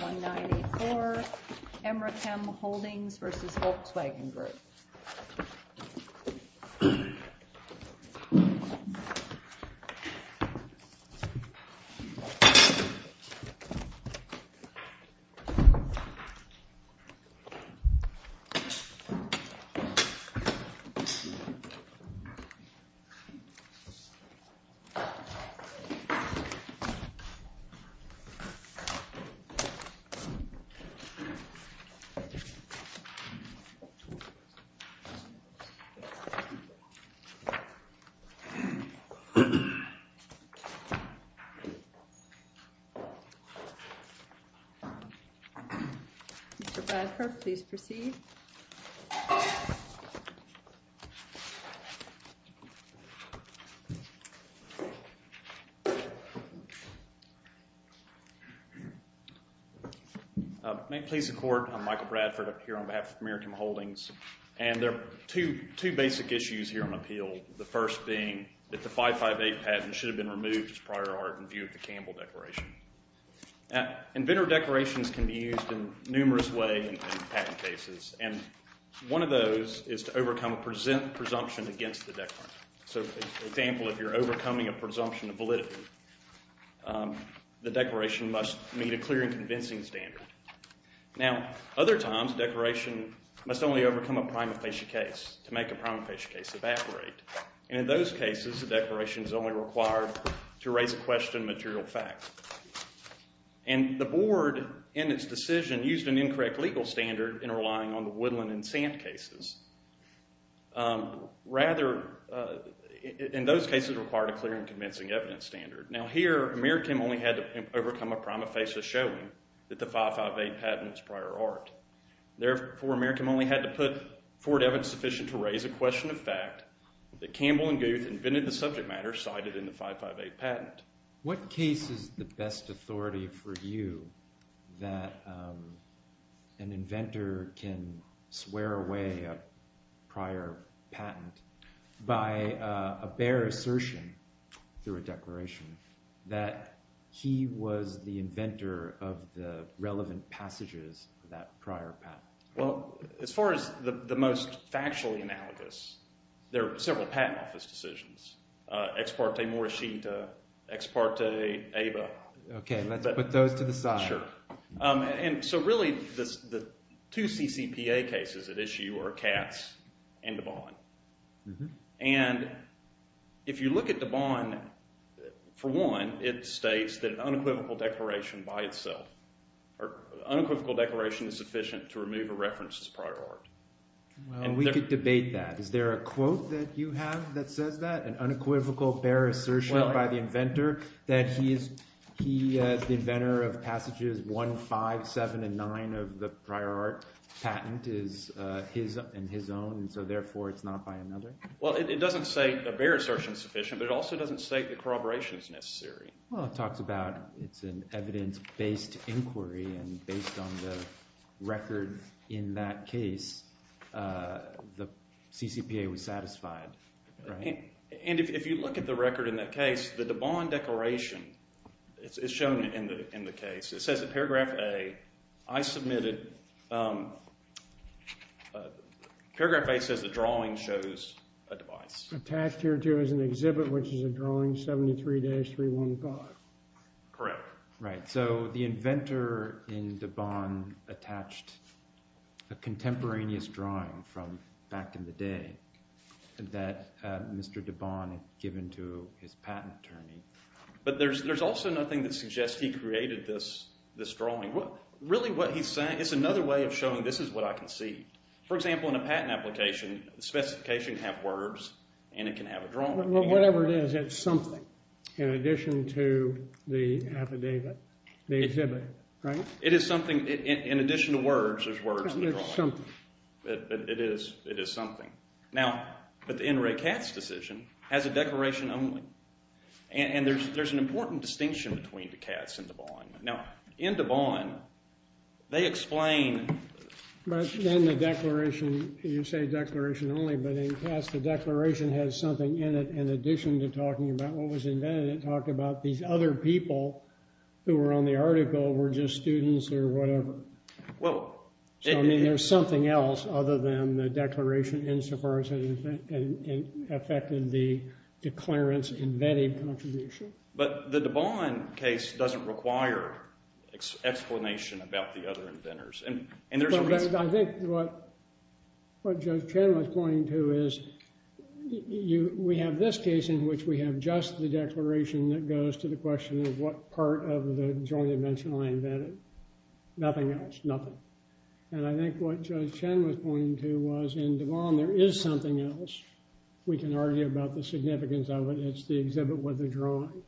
1984 EmeraChem Holdings v. Volkswagen Group 1984 EmeraChem Holdings, LLC May it please the Court. I'm Michael Bradford. I'm here on behalf of EmeraChem Holdings. And there are two basic issues here on appeal. The first being that the 558 patent should have been removed as a prior art in view of the Campbell Declaration. Inventor declarations can be used in numerous ways in patent cases. And one of those is to overcome a presumption against the declaration. So, for example, if you're overcoming a presumption of validity, the declaration must meet a clear and convincing standard. Now, other times declarations must only overcome a prima facie case to make a prima facie case evaporate. And in those cases, the declaration is only required to raise a question of material facts. And the Board, in its decision, used an incorrect legal standard in relying on the Woodland and Sand cases. Rather, in those cases, it required a clear and convincing evidence standard. Now, here, EmeraChem only had to overcome a prima facie showing that the 558 patent is prior art. Therefore, EmeraChem only had to put forward evidence sufficient to raise a question of fact that Campbell and Goode invented the subject matter cited in the 558 patent. What case is the best authority for you that an inventor can swear away a prior patent by a bare assertion through a declaration that he was the inventor of the relevant passages of that prior patent? Well, as far as the most factual analogous, there were several patent office decisions. Ex parte Morishita, ex parte Ava. Okay, let's put those to the side. Sure. And so really, the two CCPA cases at issue are Cass and the Bond. And if you look at the Bond, for one, it states that unequivocal declaration by itself, or unequivocal declaration is sufficient to remove a reference as prior art. Well, we could debate that. Is there a quote that you have that says that, an unequivocal bare assertion by the inventor that he is the inventor of passages 1, 5, 7, and 9 of the prior art patent is his own, and so therefore it's not by another? Well, it doesn't say a bare assertion is sufficient, but it also doesn't say corroboration is necessary. Well, it talks about it's an evidence-based inquiry, and based on the record in that case, the CCPA would satisfy it, right? And if you look at the record in that case, the Bond declaration is shown in the case. It says in paragraph A, I submitted, paragraph A says the drawing shows a device. Attached here too is an exhibit, which is a drawing, 73 days, 315. Correct. Right, so the inventor in the Bond attached a contemporaneous drawing from back in the day that Mr. de Bond had given to his patent attorney. But there's also nothing that suggests he created this drawing. Really what he's saying, it's another way of showing this is what I can see. For example, in a patent application, the specification can have words, and it can have a drawing. Whatever it is, it's something in addition to the affidavit, the exhibit, right? It is something, in addition to words, there's words in the drawing. It's something. It is, it is something. Now, but the NRA CATS decision has a declaration only. And there's an important distinction between the CATS and the Bond. Now, in the Bond, they explain… Then the declaration, you say declaration only, but in CATS the declaration has something in it in addition to talking about what was invented. It talked about the other people who were on the article were just students or whatever. Well… So, I mean, there's something else other than the declaration insofar as it affected the declarants' embedded contribution. But the de Bond case doesn't require explanation about the other inventors. I think what Judge Chen was pointing to is we have this case in which we have just the declaration that goes to the question of what part of the joint invention was invented. Nothing else. Nothing. And I think what Judge Chen was pointing to was in the Bond there is something else. We can argue about the significance of it. It's the exhibit with the drawing.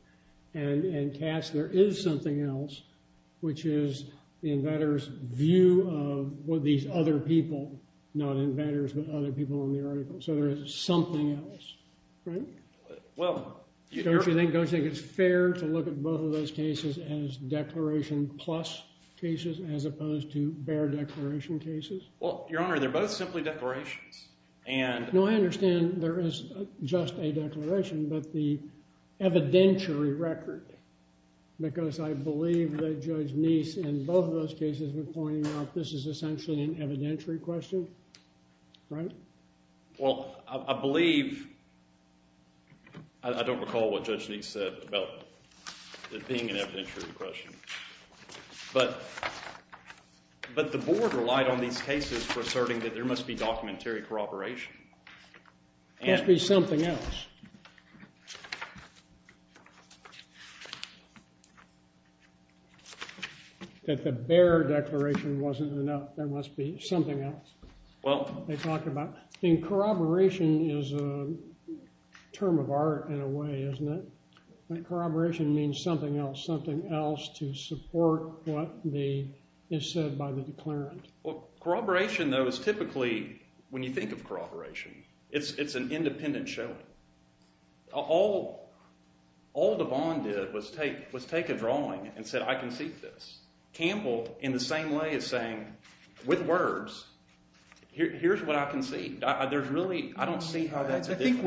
And in CATS there is something else, which is the inventors' view of what these other people, not inventors, but other people on the article. So there is something else. Right? Well… Don't you think it's fair to look at both of those cases as declaration plus cases as opposed to bare declaration cases? Well, Your Honor, they're both simply declarations. No, I understand there is just a declaration, but the evidentiary record, because I believe that Judge Neese in both of those cases was pointing out this is essentially an evidentiary question. Right? Well, I believe… I don't recall what Judge Neese said about it being an evidentiary question. But the board relied on these cases for asserting that there must be documentary corroboration. There must be something else. That the bare declaration wasn't enough. There must be something else. Well… They talked about… And corroboration is a term of art in a way, isn't it? Corroboration means something else. Something else to support what is said by the declarant. Corroboration, though, is typically… When you think of corroboration, it's an independent showing. All DeVon did was take a drawing and said, I can see this. Campbell, in the same way, is saying, with words, here's what I can see. There's really… I don't see how that could be… I think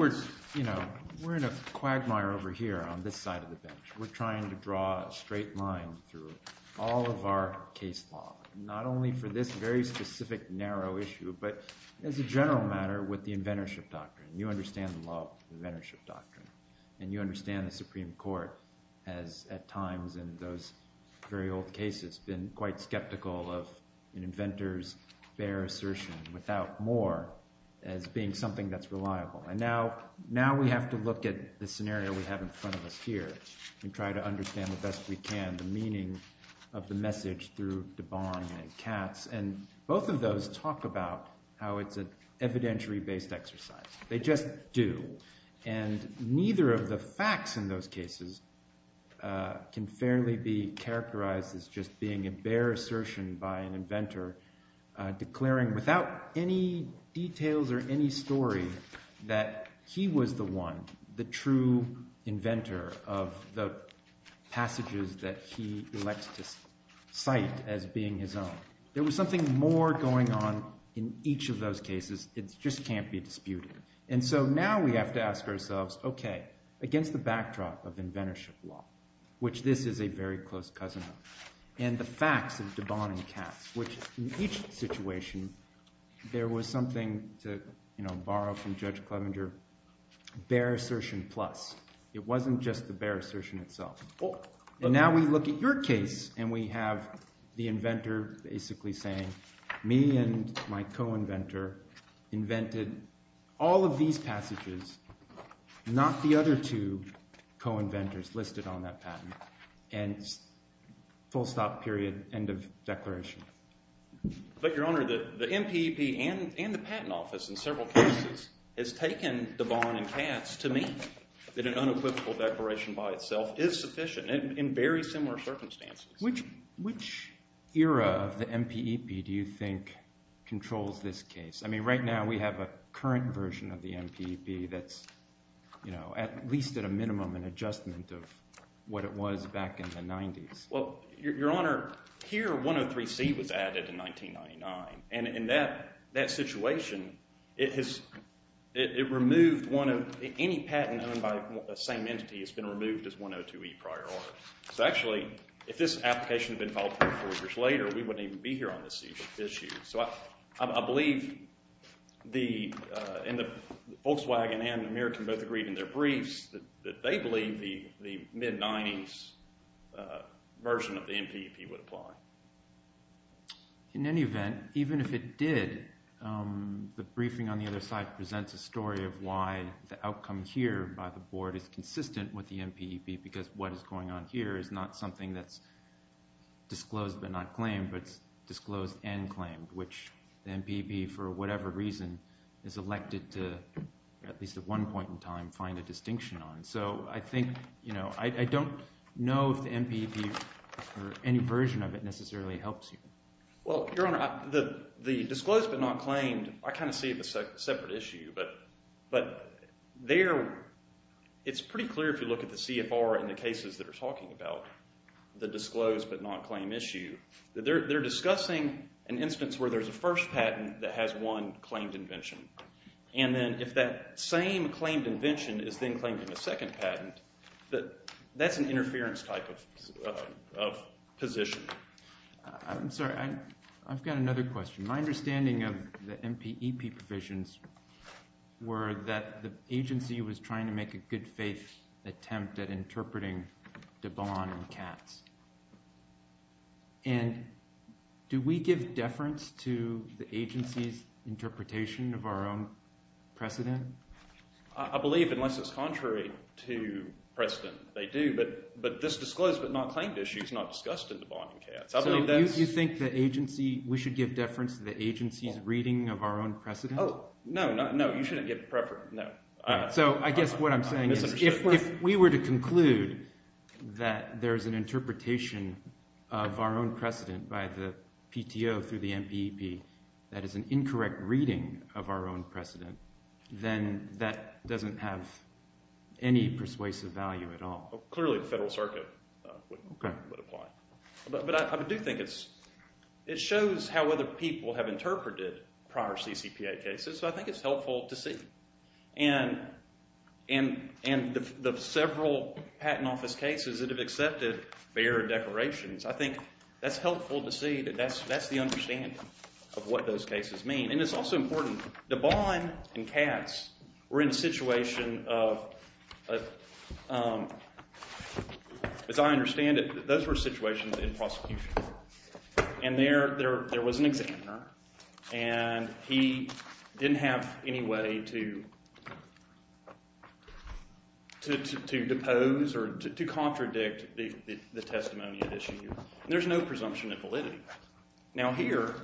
we're in a quagmire over here on this side of the bench. We're trying to draw a straight line through all of our case law. Not only for this very specific, narrow issue, but as a general matter, with the inventorship doctrine. You understand the law, the inventorship doctrine. And you understand the Supreme Court, as at times in those very old cases, has been quite skeptical of an inventor's fair assertion without more as being something that's reliable. And now we have to look at the scenario we have in front of us here and try to understand the best we can the meaning of the message through DeVon and Katz. And both of those talk about how it's an evidentiary-based exercise. They just do. And neither of the facts in those cases can fairly be characterized as just being a bare assertion by an inventor declaring without any details or any story that he was the one, the true inventor, of the passages that he elects to cite as being his own. There was something more going on in each of those cases. It just can't be disputed. And so now we have to ask ourselves, okay, against the backdrop of inventorship law, which this is a very close cousin of, and the facts of DeVon and Katz, which in each situation there was something to borrow from Judge Clevenger, bare assertion plus. It wasn't just the bare assertion itself. But now we look at your case and we have the inventor basically saying, me and my co-inventor invented all of these passages, not the other two co-inventors listed on that patent, and full stop period, end of declaration. But, Your Honor, the MPEP and the Patent Office in several cases has taken DeVon and Katz to mean that an unequivocal declaration by itself is sufficient in very similar circumstances. Which era of the MPEP do you think controls this case? I mean, right now we have a current version of the MPEP that's, you know, at least at a minimum an adjustment of what it was back in the 90s. Well, Your Honor, here 103C was added in 1999. And in that situation, it has removed one of – any patent done by the same entity has been removed as 102E prior order. So actually, if this application had been filed three or four years later, we wouldn't even be here on this issue. So I believe the – and the Volkswagen and American Motor Group in their briefs, that they believe the mid-90s version of the MPEP would apply. In any event, even if it did, the briefing on the other side presents a story of why the outcome here by the board is consistent with the MPEP because what is going on here is not something that's disclosed but not claimed, but disclosed and claimed, which the MPEP, for whatever reason, is elected to, at least at one point in time, find a distinction on. So I think, you know, I don't know if the MPEP or any version of it necessarily helps you. Well, Your Honor, the disclosed but not claimed, I kind of see it as a separate issue. But they're – it's pretty clear if you look at the CFR and the cases that are talking about the disclosed but not claimed issue. They're discussing an instance where there's a first patent that has one claimed invention. And then if that same claimed invention is then claimed in the second patent, that's an interference type of position. I'm sorry, I've got another question. My understanding of the MPEP provisions were that the agency was trying to make a good faith attempt at interpreting DeBond and Katz. And do we give deference to the agency's interpretation of our own precedent? I believe, unless it's contrary to precedent, they do. But this disclosed but not claimed issue is not discussed in DeBond and Katz. Do you think the agency – we should give deference to the agency's reading of our own precedent? Oh, no, you shouldn't give preference, no. So I guess what I'm saying is if we were to conclude that there's an interpretation of our own precedent by the PTO through the MPEP that is an incorrect reading of our own precedent, then that doesn't have any persuasive value at all. Clearly the Federal Circuit would apply. But I do think it shows how other people have interpreted prior CCPA cases, so I think it's helpful to see. And the several patent office cases that have accepted the error declarations, I think that's helpful to see that that's the understanding of what those cases mean. And it's also important, DeBond and Katz were in a situation of – as I understand it, those were situations in prosecution, and there was an examiner, and he didn't have any way to depose or to contradict the testimony of this user. Now here,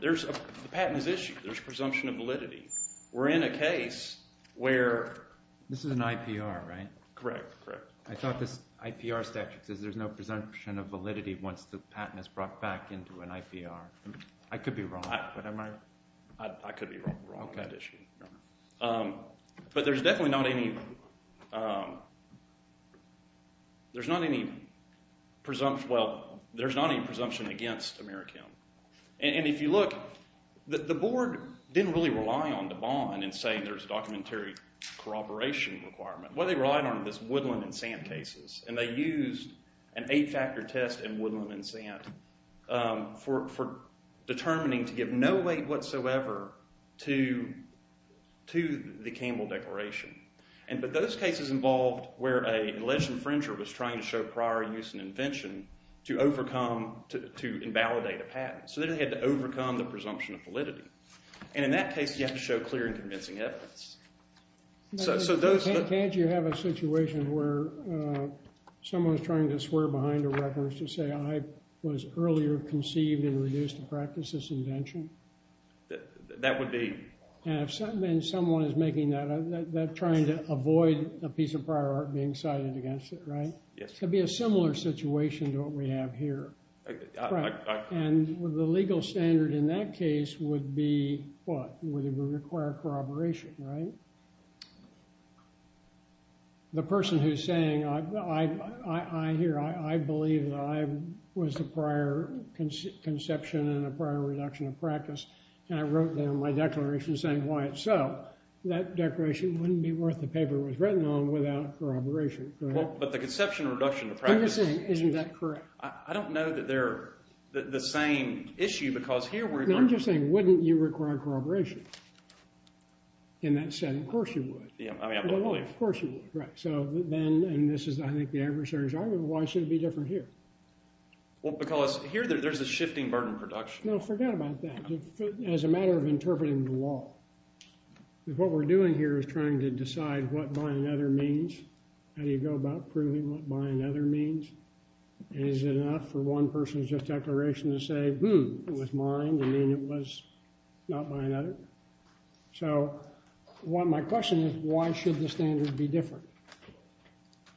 there's a patent issue. There's presumption of validity. We're in a case where – This is an IPR, right? Correct, correct. I thought this IPR statute says there's no presumption of validity once the patent is brought back into an IPR. I could be wrong, but I'm not – I could be wrong on that issue. But there's definitely not any – there's not any presumption – well, there's not any presumption against Americount. And if you look, the board didn't really rely on DeBond in saying there's a documentary corroboration requirement. What they relied on was woodland and sand cases, and they used an eight-chapter test in woodland and sand for determining to give no weight whatsoever to the Campbell Declaration. But those cases involved where an alleged infringer was trying to show prior use and invention to overcome – to invalidate a patent. So they had to overcome the presumption of validity. And in that case, you have to show clear and convincing evidence. So those – Can't you have a situation where someone's trying to swear behind a record to say, I was earlier conceived and reduced to practice this invention? That would be – And if someone is making that – they're trying to avoid a piece of prior art being cited against it, right? Yes. It would be a similar situation to what we have here. Right. And the legal standard in that case would be what? It would require corroboration, right? The person who's saying, I – here, I believe that I was the prior conception and the prior reduction of practice, and I wrote down my declaration saying why it's so, that declaration wouldn't be worth the paper it was written on without corroboration, correct? But the conception of reduction of practice – I'm just saying, isn't that correct? I don't know that they're the same issue because here we're – I'm just saying, wouldn't you require corroboration? In that sense, of course you would. Yeah, I mean – Of course you would, correct. So then – and this is, I think, the adversary's argument. Why should it be different here? Well, because here there's this shifting burden of production. No, forget about that. As a matter of interpreting the law, what we're doing here is trying to decide what by and other means. How do you go about proving what by and other means? Is it enough for one person's just declaration to say, hmm, it was mine and then it was not by and other? So my question is why should the standard be different?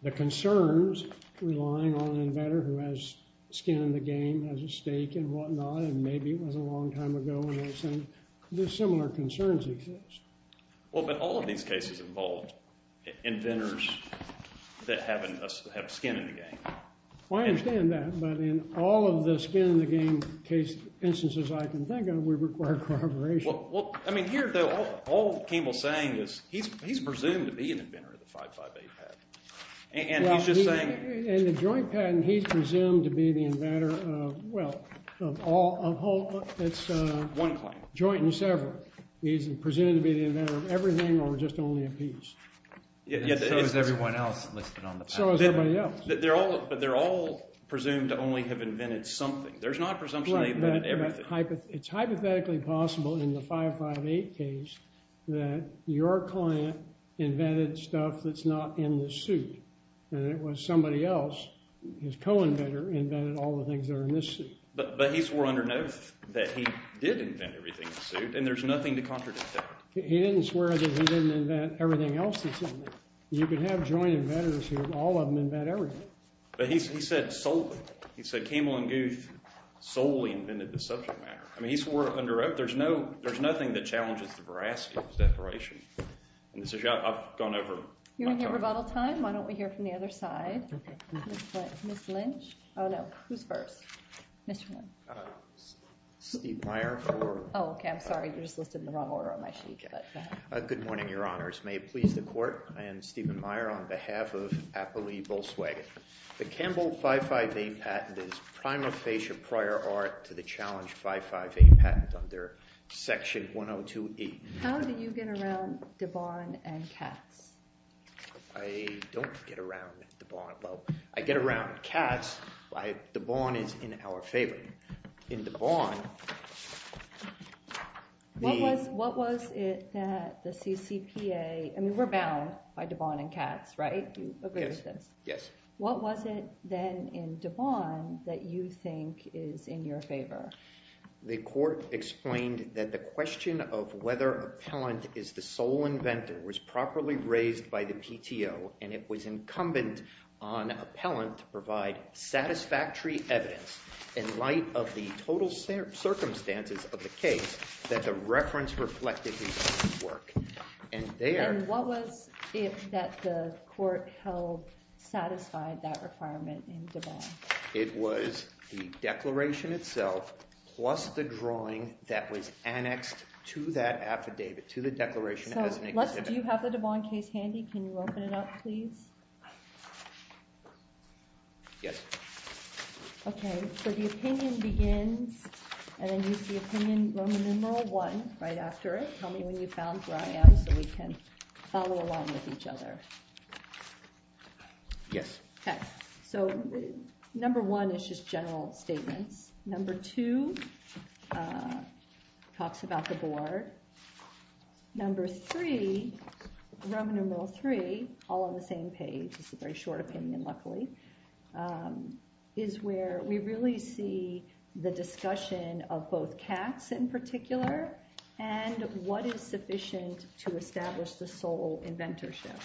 The concerns rely on an inventor who has skin in the game, has a stake and whatnot, and maybe it was a long time ago when they said – there's similar concerns in case. Well, but all of these cases involve inventors that have skin in the game. I understand that, but in all of the skin in the game instances I can think of, we require corroboration. Well, I mean, here all Campbell's saying is he's presumed to be an inventor of the 558 patent. And he's just saying – In the joint patent, he's presumed to be the inventor of, well, of all – One claim. Joint and several. He's presumed to be the inventor of everything or just only a piece. So is everyone else listed on the patent. So is everybody else. But they're all presumed to only have invented something. There's not a presumption they've invented everything. It's hypothetically possible in the 558 case that your client invented stuff that's not in the suit, and it was somebody else, his co-inventor, invented all the things that are in this suit. But he swore under note that he did invent everything in the suit, and there's nothing to contradict that. He didn't swear that he didn't invent everything else that's in there. You can have joint inventors who have all of them invent everything. But he said solely. He said Campbell and Goode solely invented the subject matter. I mean, he swore under note. There's nothing that challenges the Brasket separation. And so I've gone over them. You want to hear them all at the same time? Why don't we hear from the other side? Ms. Lynch. Oh, no. Who's first? Mitchell. Steve Meyer. Oh, okay. I'm sorry. I just listed the wrong order on my sheet. Good morning, Your Honors. May it please the Court. I am Stephen Meyer on behalf of Appley Volkswagen. The Campbell 558 patent is a prima facie prior art to the Challenge 558 patent under Section 102E. How did you get around Devon and Cass? I don't get around Devon at all. I get around Cass, but Devon is in our favor. In Devon, the – I mean, we're bound by Devon and Cass, right? You agree with this? Yes. What was it then in Devon that you think is in your favor? The Court explained that the question of whether appellant is the sole inventor was properly raised by the PTO, and it was incumbent on appellant to provide satisfactory evidence in light of the total circumstances of the case that the reference reflected in this work. And there – And what was it that the Court held satisfied that requirement in Devon? It was the declaration itself plus the drawing that was annexed to that affidavit, to the declaration. Do you have the Devon case handy? Can you open it up, please? Yes. Okay. So the opinion begins, and the opinion, Roman numeral I, right after it, tell me when you found where I am so we can follow along with each other. Yes. Okay. So number one is just general statement. Number two talks about the board. Number three, Roman numeral III, all on the same page, it's a very short opinion, luckily, is where we really see the discussion of both tax in particular and what is sufficient to establish the sole inventorship.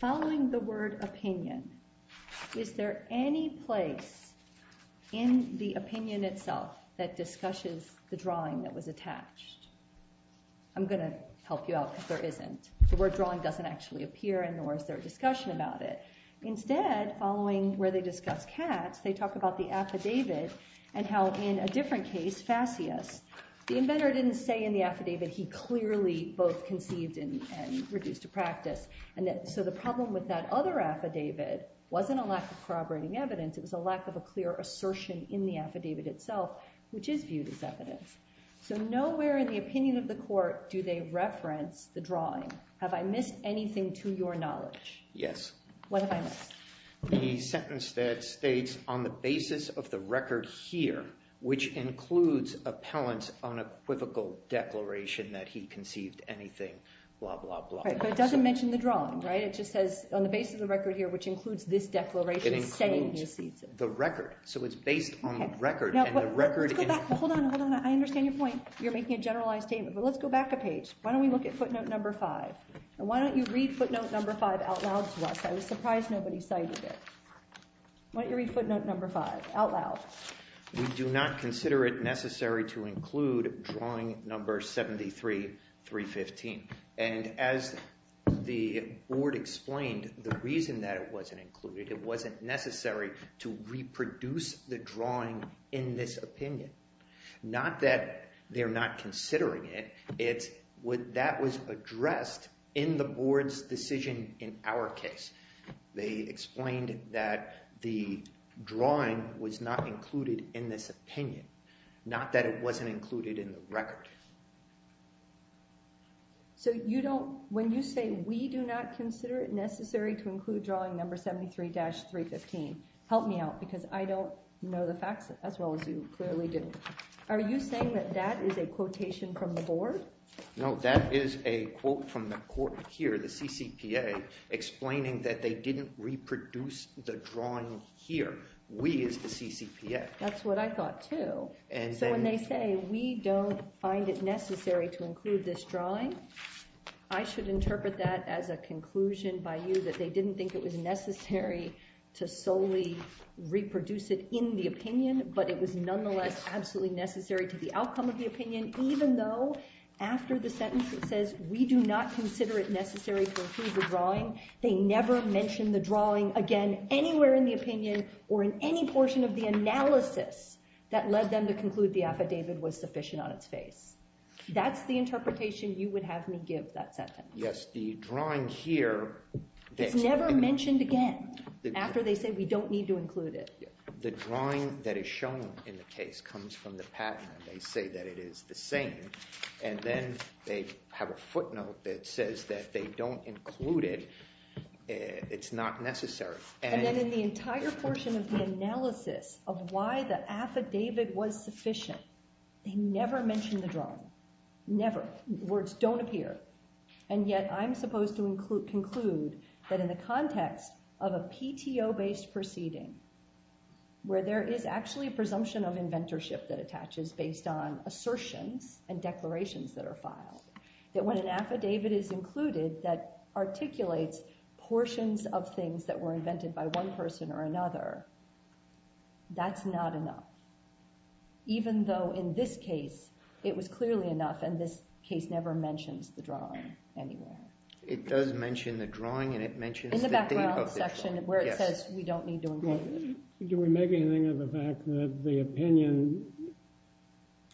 Following the word opinion, is there any place in the opinion itself that discusses the drawing that was attached? I'm going to help you out because there isn't. The word drawing doesn't actually appear in the discussion about it. Instead, following where they discuss tax, they talk about the affidavit and how in a different case, FASCIA. The inventor didn't say in the affidavit he clearly both conceded and reduced to practice. So the problem with that other affidavit wasn't a lack of corroborating evidence, it was a lack of a clear assertion in the affidavit itself, which is viewed as evidence. So nowhere in the opinion of the court do they reference the drawing. Have I missed anything to your knowledge? Yes. What have I missed? The sentence that states, on the basis of the record here, which includes appellant's unequivocal declaration that he conceived anything, blah, blah, blah. Right, so it doesn't mention the drawing, right? It just says, on the basis of the record here, which includes this declaration saying he conceived it. It includes the record. So it's based on the record and the record... Hold on, hold on, I understand your point. You're making a generalized statement, but let's go back a page. Why don't we look at footnote number five? Why don't you read footnote number five out loud to us? I'm surprised nobody cited it. Why don't you read footnote number five out loud? We do not consider it necessary to include drawing number 73-315. And as the board explained, the reason that it wasn't included, it wasn't necessary to reproduce the drawing in this opinion. Not that they're not considering it. If that was addressed in the board's decision in our case, they explained that the drawing was not included in this opinion. Not that it wasn't included in the record. So you don't, when you say, we do not consider it necessary to include drawing number 73-315, help me out because I don't know the facts as well as you clearly do. Are you saying that that is a quotation from the board? No, that is a quote from the court here, the CCPA, explaining that they didn't reproduce the drawing here. We as the CCPA. That's what I thought too. So when they say we don't find it necessary to include this drawing, I should interpret that as a conclusion by you that they didn't think it was necessary to solely reproduce it in the opinion, but it was nonetheless absolutely necessary to the outcome of the opinion, even though after the sentence it says, we do not consider it necessary to include the drawing. They never mentioned the drawing again, anywhere in the opinion or in any portion of the analysis that led them to conclude the affidavit was sufficient on its face. That's the interpretation you would have me give that sentence. Yes, the drawing here. Never mentioned again. After they said we don't need to include it. The drawing that is shown in the case comes from the patent. They say that it is the same. And then they have a footnote that says that they don't include it. It's not necessary. And then in the entire portion of the analysis of why the affidavit was sufficient, they never mentioned the drawing. Never. Words don't appear. And yet I'm supposed to conclude that in the context of a PTO-based proceeding, where there is actually a presumption of inventorship that attaches based on assertion and declarations that are filed, that when an affidavit is included that articulates portions of things that were invented by one person or another, that's not enough. Even though in this case, it was clearly enough. And this case never mentioned the drawing anywhere. It does mention the drawing and it mentions the date of it. Do we make anything of the fact that the opinion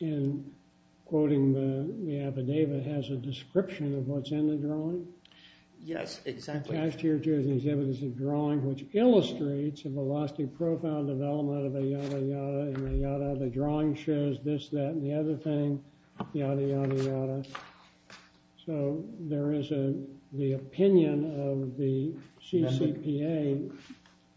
in quoting the affidavit has a description of what's in the drawing? Yes, exactly. Attached to your case is evidence of drawing, which illustrates a velocity profile development of the yada yada, and the yada of the drawing shows this, that, and the other thing, yada yada yada. So the opinion of the CCPA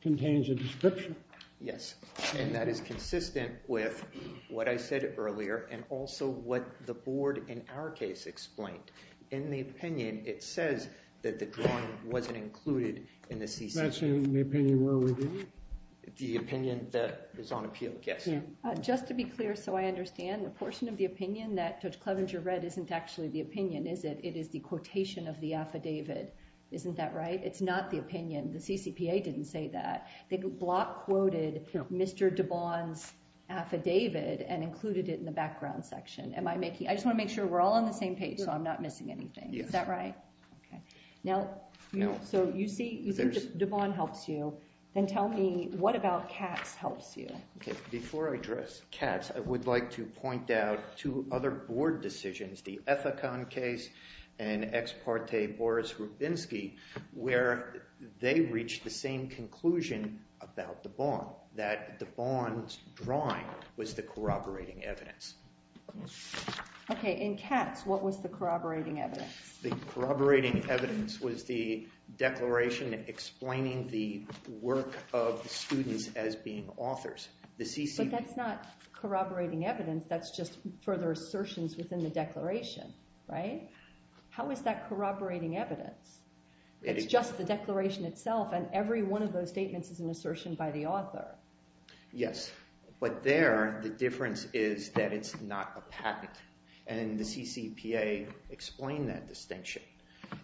contains a description? Yes. And that is consistent with what I said earlier and also what the board in our case explained. In the opinion, it says that the drawing wasn't included in the CCPA. That's in the opinion where we did it? The opinion that is on appeal, yes. Just to be clear so I understand, the portion of the opinion that Judge Clevenger read isn't actually the opinion, is it? It is the quotation of the affidavit. Isn't that right? It's not the opinion. The CCPA didn't say that. They block quoted Mr. DeBond's affidavit and included it in the background section. I just want to make sure we're all on the same page so I'm not missing anything. Is that right? Yes. So you think DeBond helped you. Then tell me what about Katz helped you? Before I address Katz, I would like to point out two other board decisions, the Ethicom case and ex parte Boris Rubinsky where they reached the same conclusion about DeBond, that DeBond's drawing was the corroborating evidence. Okay. In Katz, what was the corroborating evidence? The corroborating evidence was the declaration explaining the work of students as being authors. But that's not corroborating evidence. That's just further assertions within the declaration. Right? How is that corroborating evidence? It's just the declaration itself and every one of those statements is an assertion by the author. Yes. But there, the difference is that it's not a patent. And the CCPA explained that distinction.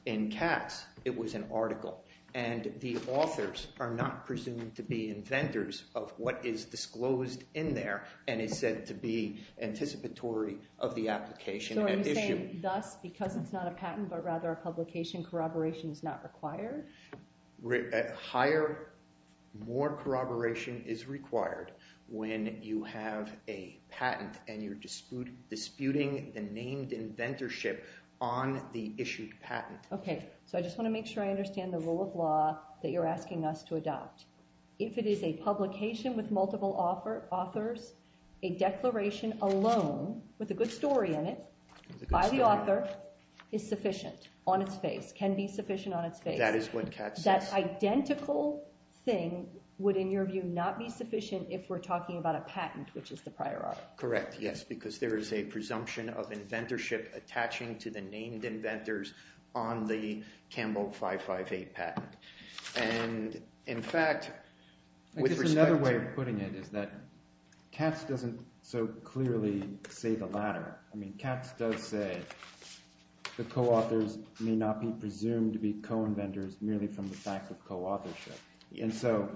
In Katz, it was an article. And the authors are not presumed to be inventors of what is disclosed in there. And it says to be anticipatory of the application. So you're saying thus, because it's not a patent, but rather a publication, corroboration is not required? Higher, more corroboration is required when you have a patent and you're disputing the named inventorship on the issued patent. Okay. So I just want to make sure I understand the rule of law that you're asking us to adopt. If it is a publication with multiple authors, a declaration alone with a good story in it by the author is sufficient on its face, can be sufficient on its face. That is what Katz said. That identical thing would, in your view, not be sufficient if we're talking about a patent, which is the prior art. Correct, yes. Because there is a presumption of inventorship attaching to the named inventors on the Campbell 558 patent. And in fact, with respect to… I think another way of putting it is that Katz doesn't so clearly say the latter. I mean, Katz does say the co-authors may not be presumed to be co-inventors merely from the fact of co-authorship. And so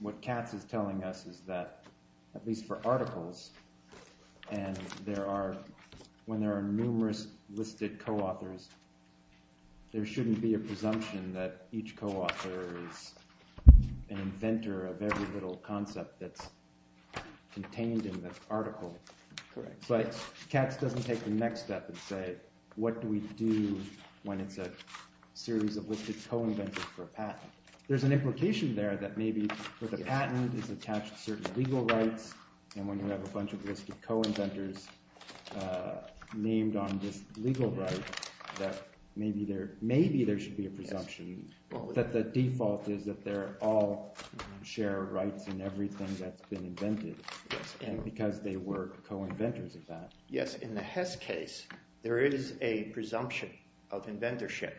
what Katz is telling us is that, at least for articles, and when there are numerous listed co-authors, there shouldn't be a presumption that each co-author is an inventor of every little concept that's contained in this article. Correct. But Katz doesn't take the next step and say, what do we do when it's a series of listed co-inventors for a patent? There's an implication there that maybe with a patent, it's attached to certain legal rights, and when you have a bunch of listed co-inventors named on this legal right, that maybe there should be a presumption that the default is that they all share rights in everything that's been invented, and because they were co-inventors of that. Yes, in the Hess case, there is a presumption of inventorship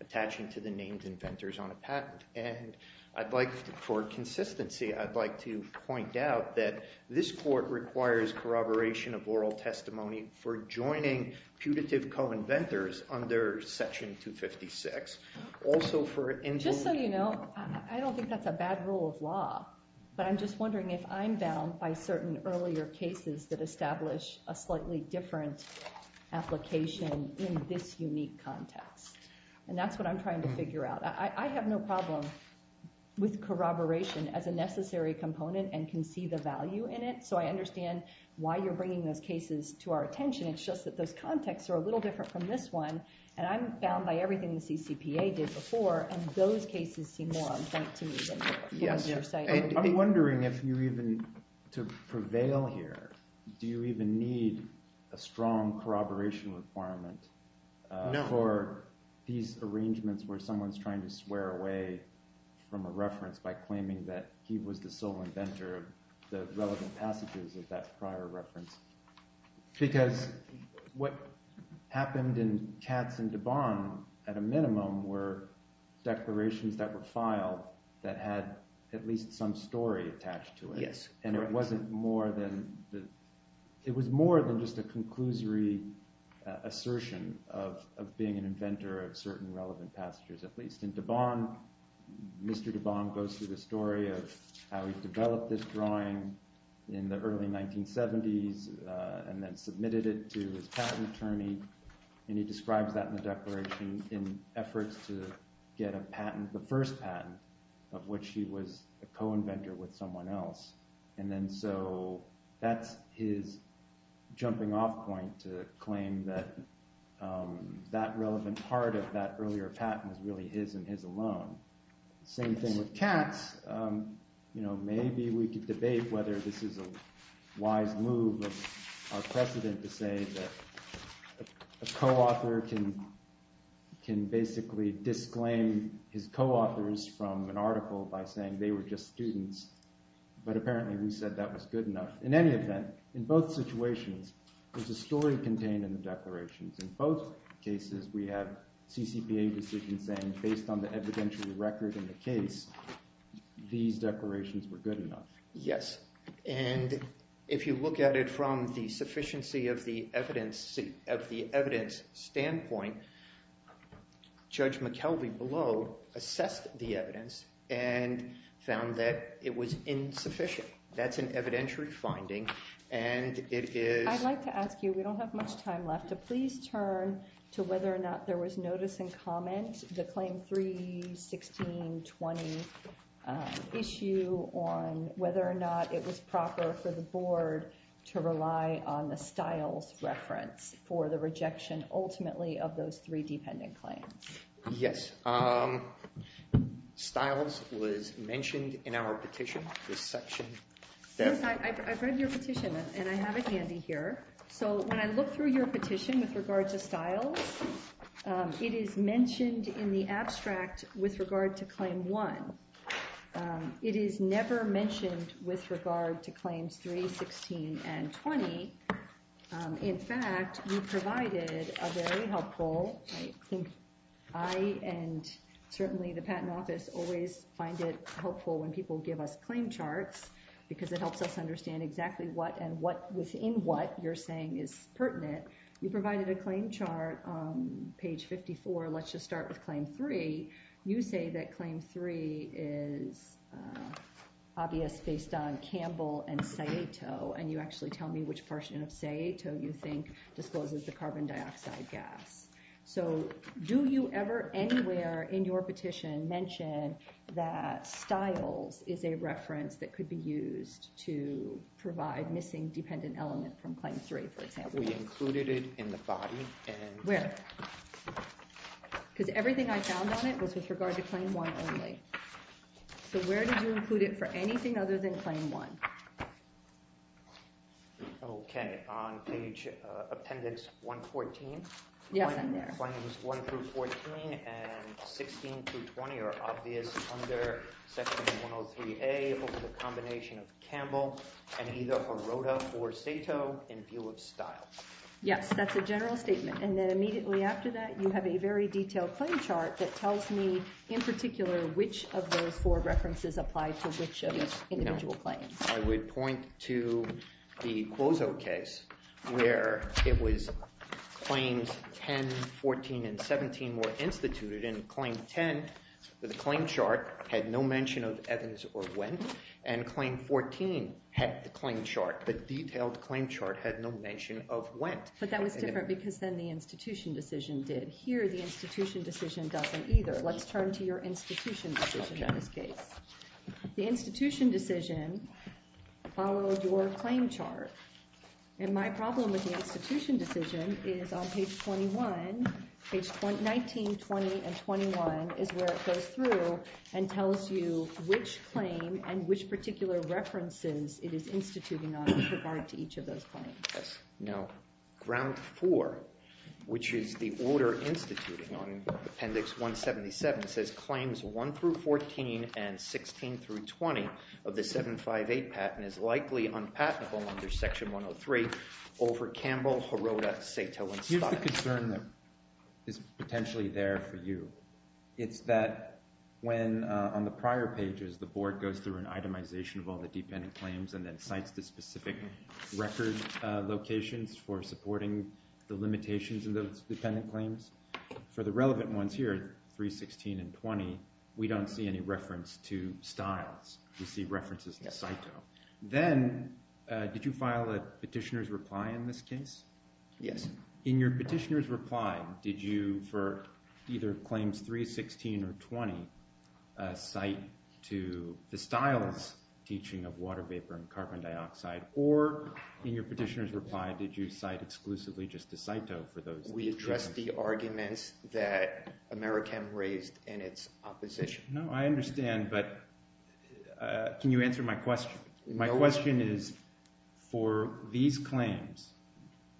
attaching to the named inventors on the patent. And for consistency, I'd like to point out that this court requires corroboration of oral testimony for joining putative co-inventors under Section 256. Just so you know, I don't think that's a bad rule of law, but I'm just wondering if I'm bound by certain earlier cases that establish a slightly different application in this unique context. And that's what I'm trying to figure out. I have no problem with corroboration as a necessary component and can see the value in it, so I understand why you're bringing those cases to our attention. It's just that those contexts are a little different from this one, and I'm bound by everything the CCPA did before, and those cases seem more on point to me than the other side. I'm wondering if you even, to prevail here, do you even need a strong corroboration requirement for these arrangements where someone's trying to swear away from a reference by claiming that he was the sole inventor of the relevant passages of that prior reference? Because what happened in Katz and DeBond, at a minimum, were declarations that were filed that had at least some story attached to it. And it was more than just a conclusory assertion of being an inventor of certain relevant passages at least. In DeBond, Mr. DeBond goes through the story of how he developed this drawing in the early 1970s and then submitted it to his patent attorney, and he described that in the declaration in efforts to get a patent, the first patent, of which he was a co-inventor with someone else. And then so that's his jumping-off point to claim that that relevant part of that earlier patent was really his and his alone. Same thing with Katz. Maybe we could debate whether this is a wise move or precedent to say that a co-author can basically disclaim his co-authors from an article by saying they were just students. But apparently we said that was good enough. In any event, in both situations, there's a story contained in the declaration. In both cases, we have CCPA decisions saying based on the evidentiary record in the case, these declarations were good enough. Yes. And if you look at it from the sufficiency of the evidence standpoint, Judge McKelvey below assessed the evidence and found that it was insufficient. Okay. That's an evidentiary finding. I'd like to ask you, we don't have much time left, so please turn to whether or not there was notice and comment, the Claim 3-16-20 issue on whether or not it was proper for the Board to rely on the Stiles reference for the rejection ultimately of those three dependent claims. Yes. Stiles was mentioned in our petition. I've read your petition, and I have it handy here. So when I look through your petition with regards to Stiles, it is mentioned in the abstract with regard to Claim 1. It is never mentioned with regard to Claims 3-16-20. In fact, we provided a very helpful, I think I and certainly the Patent Office always find it helpful when people give us claim charts because it helps us understand exactly what and within what you're saying is pertinent. You provided a claim chart on page 54. Let's just start with Claim 3. You say that Claim 3 is obvious based on Campbell and Sayeto, and you actually tell me which portion of Sayeto you think discloses the carbon dioxide gas. So do you ever anywhere in your petition mention that Stiles is a reference that could be used to provide missing dependent elements from Claim 3? We included it in the body. Where? Because everything I found on it was with regard to Claim 1 only. So where did you include it for anything other than Claim 1? Okay, on page Appendix 114. Appendix 1-14 and 16-20 are obvious under Section 103A over the combination of Campbell and either Baroda or Sayeto in view of Stiles. Yes, that's the general statement. And then immediately after that you have a very detailed claim chart that tells me in particular which of those four references apply to which of the individual claims. I would point to the Clozo case where it was Claims 10, 14, and 17 were instituted, and Claim 10, the claim chart, had no mention of evidence of when, and Claim 14 had the claim chart. The detailed claim chart had no mention of when. But that was different because then the institution decision did. Here the institution decision doesn't either. Let's turn to your institution decision. The institution decision follows your claim chart. And my problem with the institution decision is on page 21, page 19, 20, and 21 is where it goes through and tells you which claim and which particular references it is instituting on with regard to each of those claims. Now, Ground 4, which is the order instituting on Appendix 177, says Claims 1 through 14 and 16 through 20 of the 758 patent is likely unpatentable under Section 103 over Campbell, Haroda, Sayeto, and Stiles. Here's a concern that is potentially there for you. It's that when on the prior pages the board goes through an itemization of all the dependent claims and then cites the specific record locations for supporting the limitations of the dependent claims. For the relevant ones here, 316 and 20, we don't see any reference to Stiles. We see references to Sayeto. Then did you file a petitioner's reply in this case? Yes. In your petitioner's reply, did you, for either Claims 316 or 20, cite to the Stiles teaching of water vapor and carbon dioxide, or in your petitioner's reply, did you cite exclusively just to Sayeto for those claims? We addressed the argument that Americam raised in its opposition. No, I understand, but can you answer my question? My question is, for these claims,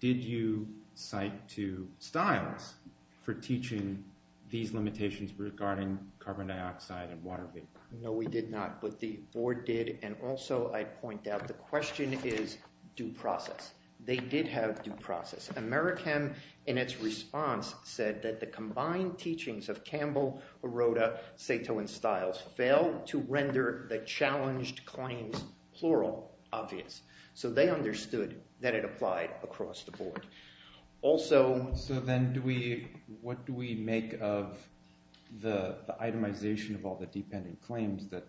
did you cite to Stiles for teaching these limitations regarding carbon dioxide and water vapor? No, we did not, but the board did. Also, I point out the question is due process. They did have due process. Americam, in its response, said that the combined teachings of Campbell, Aroda, Sayeto, and Stiles failed to render the challenged claims plural obvious. So they understood that it applied across the board. Also, what do we make of the itemization of all the dependent claims that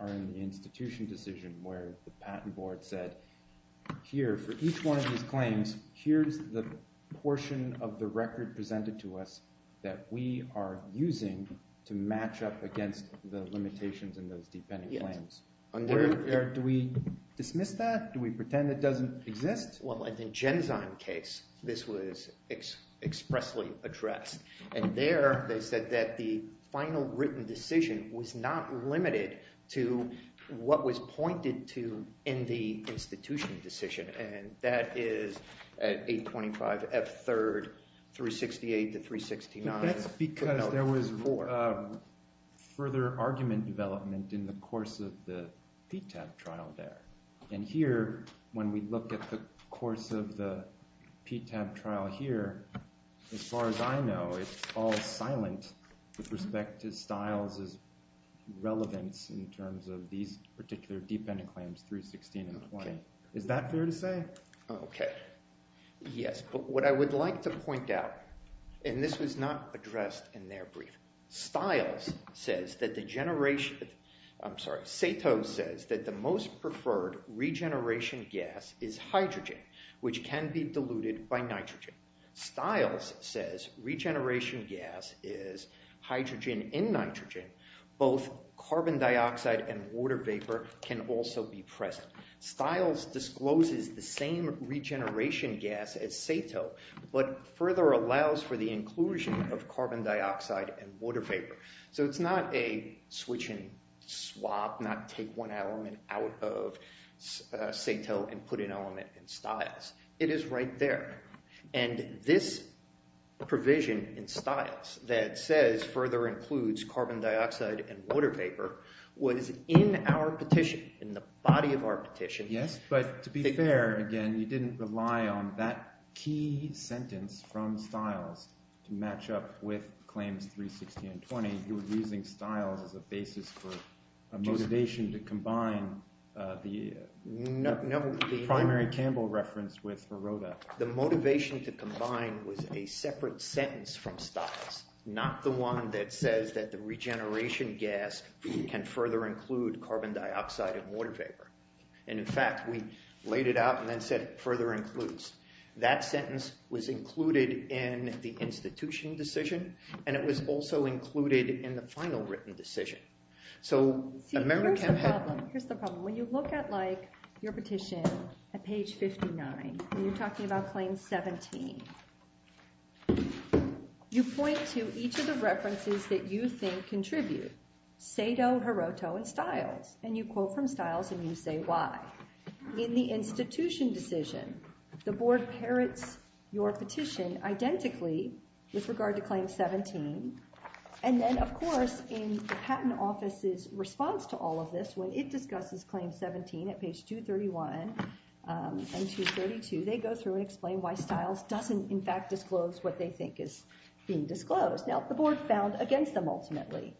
are in the institution decision where the patent board said, here, for each one of these claims, here's the portion of the record presented to us that we are using to match up against the limitations in those dependent claims. Do we dismiss that? Do we pretend it doesn't exist? Well, in the Genzyme case, this was expressly addressed. There, they said that the final written decision was not limited to what was pointed to in the institution decision, and that is at 825 F3, 368 to 369. That's because there was further argument development in the course of the PTAP trial there. And here, when we look at the course of the PTAP trial here, as far as I know, it's all silent with respect to Stiles' relevance in terms of these particular dependent claims, 316 and 1. Is that fair to say? Okay. Yes. But what I would like to point out, and this was not addressed in their brief, Stiles says that the generation... I'm sorry, Sato says that the most preferred regeneration gas is hydrogen, which can be diluted by nitrogen. Stiles says regeneration gas is hydrogen in nitrogen. Both carbon dioxide and water vapor can also be pressed. Stiles discloses the same regeneration gas as Sato, but further allows for the inclusion of carbon dioxide and water vapor. So it's not a switch and swap, not take one element out of Sato and put an element in Stiles. It is right there. And this provision in Stiles that says further includes carbon dioxide and water vapor was in our petition, in the body of our petition. Yes, but to be fair, again, you didn't rely on that key sentence from Stiles to match up with Claims 360 and 20. You were using Stiles as a basis for a motivation to combine the primary Campbell reference with Naroda. The motivation to combine was a separate sentence from Stiles, not the one that says that the regeneration gas can further include carbon dioxide and water vapor. And in fact, we laid it out and then said it further includes. That sentence was included in the institution decision and it was also included in the final written decision. So remember... Here's the problem. When you look at your petition at page 59 and you're talking about Claims 17, you point to each of the references that you think contribute. Sato, Hiroto, and Stiles. And you quote from Stiles and you say why. In the institution decision, the board parrots your petition identically with regard to Claims 17. And then, of course, in the Patent Office's response to all of this, when it discusses Claims 17 at page 231 and 232, they go through and explain why Stiles doesn't, in fact, disclose what they think is being disclosed. Now, the board's found against them, ultimately.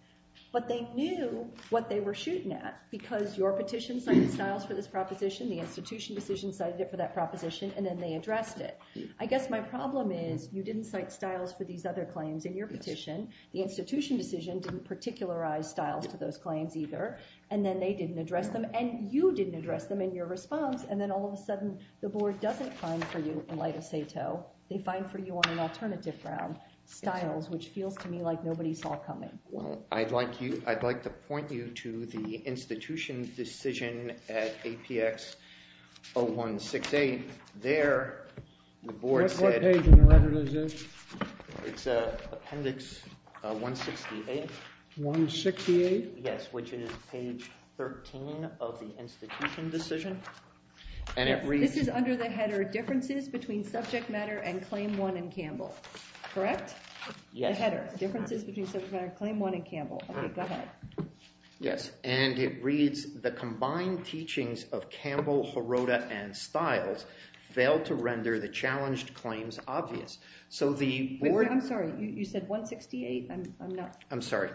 But they knew what they were shooting at because your petition cited Stiles for this proposition, the institution decision cited it for that proposition, and then they addressed it. I guess my problem is you didn't cite Stiles for these other claims in your petition, the institution decision didn't particularize Stiles for those claims either, and then they didn't address them, and you didn't address them in your response, and then all of a sudden the board doesn't find for you, in light of Sato, they find for you on an alternative ground, Stiles, which feels to me like nobody saw coming. Well, I'd like to point you to the institution decision at APX 0168. There, the board says, What page 11 is this? It's appendix 168. 168? Yes, which is page 13 of the institution decision, and it reads, This is under the header, Differences Between Subject Matter and Claim 1 in Campbell. Correct? Yes. Under the header, Differences Between Subject Matter and Claim 1 in Campbell. Okay, go ahead. Yes, and it reads, The combined teachings of Campbell, Haroda, and Stiles fail to render the challenged claims obvious. So the board I'm sorry, you said 168? I'm sorry.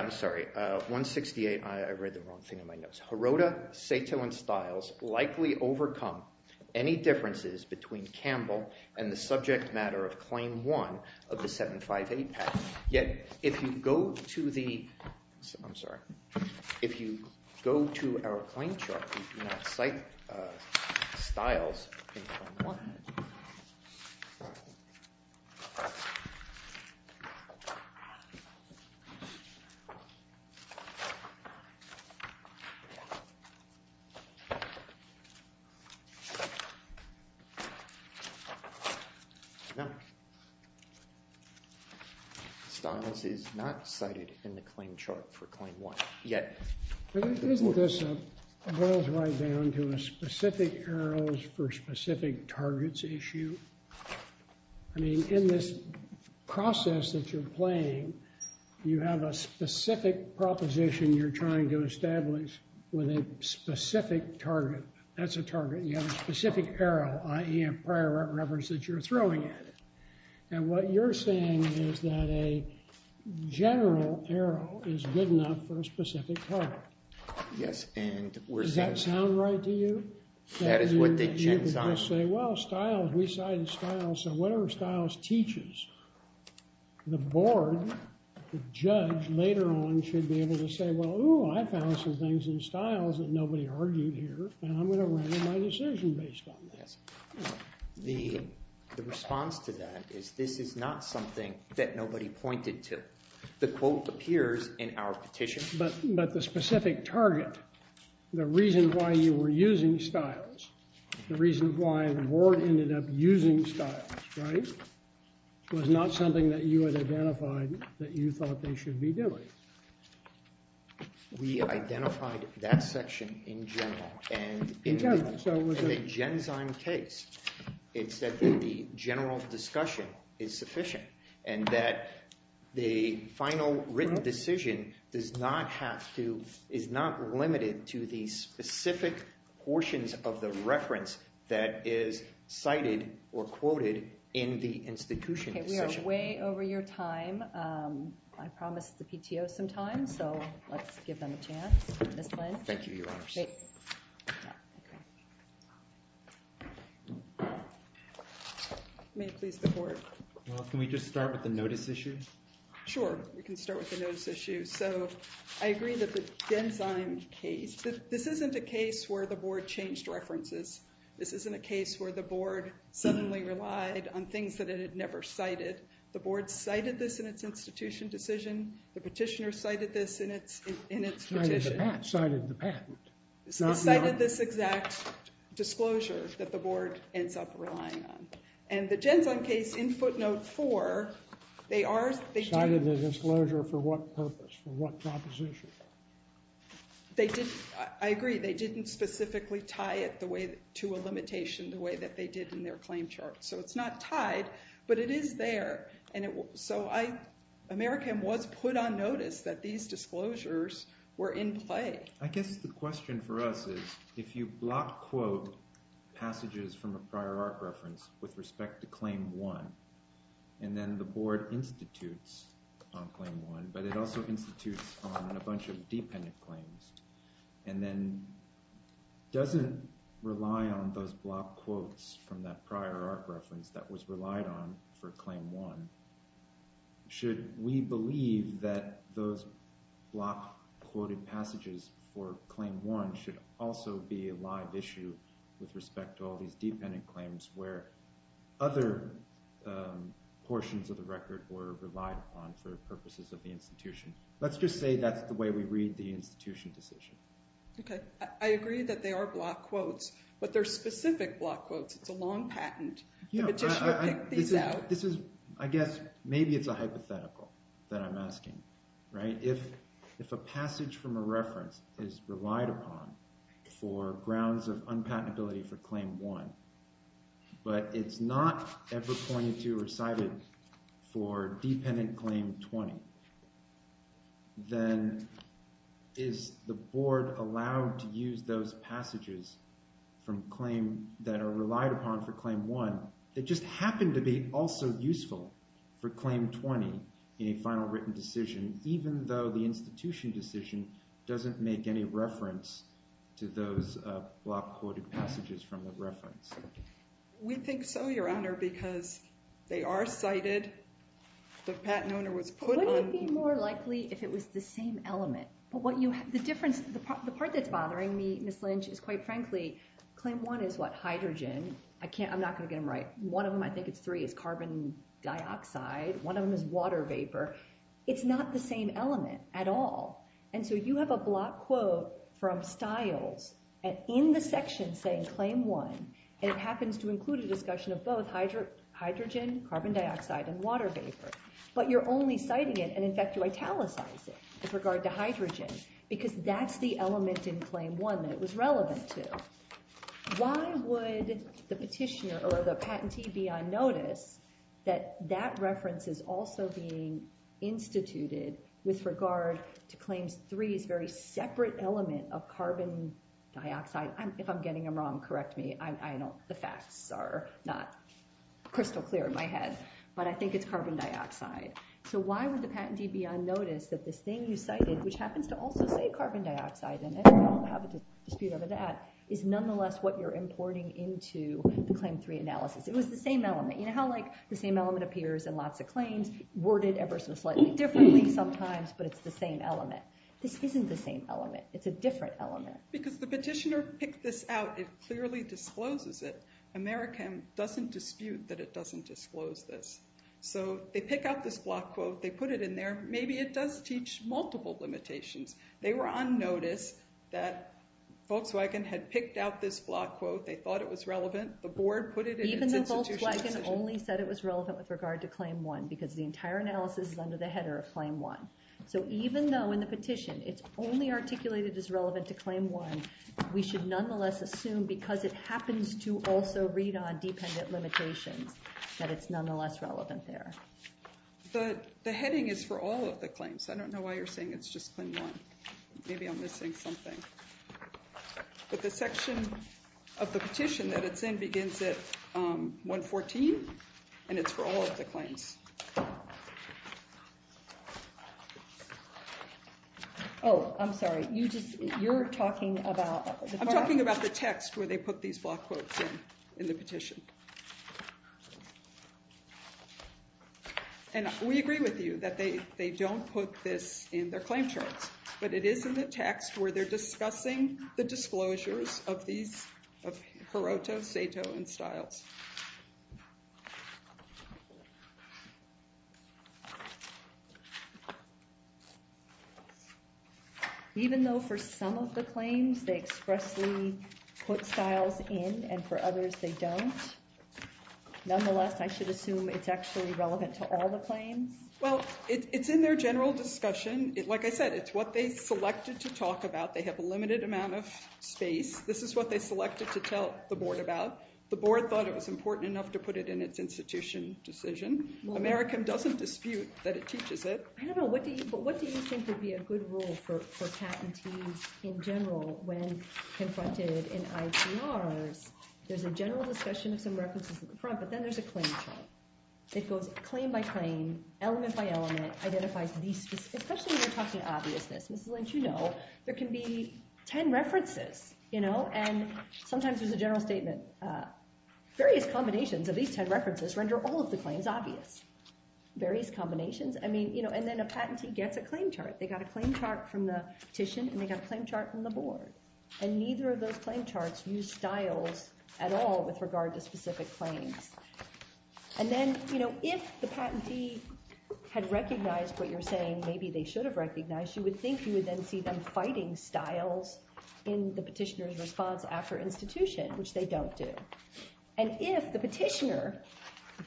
I'm sorry, 168, I read the wrong thing in my notes. Haroda, Sato, and Stiles likely overcome any differences between Campbell and the subject matter of Claim 1 of the 758 Act. Yet, if you go to the I'm sorry. If you go to our point chart, Stiles is not cited in the claim chart for Claim 1 yet. Isn't this a boils right down to a specific arrows for specific targets issue? I mean, in this process that you're playing, you have a specific proposition you're trying to establish with a specific target. That's a target. You have a specific arrow, i.e. a pair of rubbers that you're throwing at it. And what you're saying is that a Yes, and we're saying Does that sound right to you? That is what they think. You could just say, well, Stiles, we cited Stiles. So whatever Stiles teaches, the board, the judge later on should be able to say, well, ooh, I found some things in Stiles that nobody argued here, and I'm going to render my decision based on that. The response to that is this is not something that nobody pointed to. The quote appears in our petition. But the specific target, the reason why you were using Stiles, the reason why the board ended up using Stiles, right, was not something that you had identified that you thought they should be doing. We identified that section in general. In general. It's a gen-sign case. It said that the general's discussion is sufficient and that the final written decision does not have to, is not limited to the specific portions of the reference that is cited or quoted in the institution. Okay, we are way over your time. I promised the PTO some time, so let's give them a chance. Thank you, Your Honor. Great. May I please report? Can we just start with the notice issues? Sure, we can start with the notice issues. So I agree that the gen-sign case, this isn't a case where the board changed references. This isn't a case where the board suddenly relied on things that it had never cited. The board cited this in its institution decision. The petitioner cited this in its petition. Cited the patent. Cited this exact disclosure that the board ends up relying on. And the gen-sign case in footnote 4, they are – Cited the disclosure for what purpose, for what proposition? I agree. They didn't specifically tie it to a limitation the way that they did in their claim chart. So it's not tied, but it is there. So AmeriCAM was put on notice that these disclosures were in play. I guess the question for us is, if you block quote passages from a prior art reference with respect to Claim 1, and then the board institutes on Claim 1, but it also institutes on a bunch of dependent claims, and then doesn't rely on those block quotes from that prior art reference that was relied on for Claim 1, should we believe that those block quoted passages for Claim 1 should also be a live issue with respect to all these dependent claims where other portions of the record were relied upon for purposes of the institution? Let's just say that's the way we read the institution's decision. Okay. I agree that they are block quotes, but they're specific block quotes. It's a long patent. You know, I guess maybe it's a hypothetical that I'm asking, right? If a passage from a reference is relied upon for grounds of unpatentability for Claim 1, but it's not ever pointed to or cited for dependent Claim 20, then is the board allowed to use those passages that are relied upon for Claim 1 that just happen to be also useful for Claim 20 in a final written decision, even though the institution decision doesn't make any reference to those block quoted passages from the reference? We think so, Your Honor, because they are cited. The patent owner was put on... Wouldn't it be more likely if it was the same element? The difference, the part that's bothering me, Ms. Lynch, is quite frankly, Claim 1 is, what, hydrogen? I'm not going to get them right. One of them, I think it's three, is carbon dioxide. One of them is water vapor. It's not the same element at all. And so you have a block quote from Stiles in the section saying Claim 1, and it happens to include a discussion of both hydrogen, carbon dioxide, and water vapor, but you're only citing it and, in fact, you italicized it with regard to hydrogen because that's the element in Claim 1 that it was relevant to. Why would the petitioner or the patentee be unnoticed that that reference is also being instituted with regard to Claim 3's very separate element of carbon dioxide? If I'm getting them wrong, correct me. I know the facts are not crystal clear in my head, but I think it's carbon dioxide. So why would the patentee be unnoticed that the thing you cited, which happens to also say carbon dioxide in it, I don't have a dispute over that, is nonetheless what you're importing into the Claim 3 analysis? It was the same element. You know how, like, the same element appears in lots of claims, worded ever so slightly differently sometimes, but it's the same element. This isn't the same element. It's a different element. Because the petitioner picked this out. It clearly discloses it. Americans doesn't dispute that it doesn't disclose this. So they pick up this block quote. They put it in there. Maybe it does teach multiple limitations. They were unnoticed that Volkswagen had picked out this block quote. They thought it was relevant. Even though Volkswagen only said it was relevant with regard to Claim 1, because the entire analysis is under the header of Claim 1. So even though in the petition it's only articulated as relevant to Claim 1, we should nonetheless assume because it happens to also read on dependent limitations that it's nonetheless relevant there. The heading is for all of the claims. I don't know why you're saying it's just Claim 1. Maybe I'm missing something. But the section of the petition that it's in begins at 114. And it's for all of the claims. Oh, I'm sorry. You're talking about... I'm talking about the text where they put these block quotes in the petition. And we agree with you that they don't put this in their claim chart. But it is in the text where they're discussing the disclosures of these, of Carota, Sato, and Stiles. Even though for some of the claims they expressly put Stiles in and for others they don't, nonetheless, I should assume it's actually relevant to all the claims? Well, it's in their general discussion. Like I said, it's what they selected to talk about. They have a limited amount of space. This is what they selected to tell the board about. The board thought it was important enough to put it in its institution decision. America doesn't dispute that it teaches it. No, no. What do you think would be a good rule for patent fees in general when confronted in ICR? There's a general discussion with the Americans at the front, but then there's a claim chart. It goes claim by claim, element by element, especially when you're talking obviousness. Just to let you know, there can be 10 references. And sometimes there's a general statement. Various combinations of these 10 references render all of the claims obvious. Various combinations. And then a patentee gets a claim chart. They got a claim chart from the petition, and they got a claim chart from the board. And neither of those claim charts use Stiles at all with regard to specific claims. And then if the patentee had recognized what you're saying, maybe they should have recognized, you would think you would then see them fighting Stiles in the petitioner's response after institution, which they don't do. And if the petitioner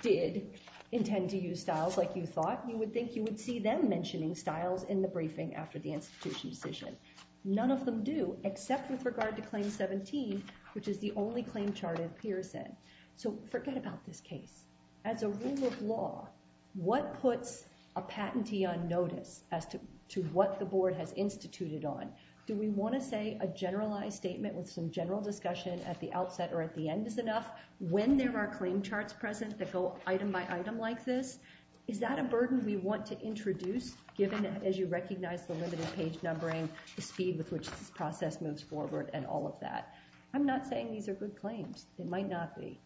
did intend to use Stiles like you thought, you would think you would see them mentioning Stiles in the briefing after the institution decision. None of them do, except with regard to Claim 17, which is the only claim chart it appears in. So forget about this case. As a rule of law, what puts a patentee on notice as to what the board has instituted on? Do we want to say a generalized statement with some general discussion at the outset or at the end is enough, when there are claim charts present that go item by item like this? Is that a burden we want to introduce, given that, as you recognize, the limited page numbering, the speed with which the process moves forward, and all of that? I'm not saying these are good claims. They might not be.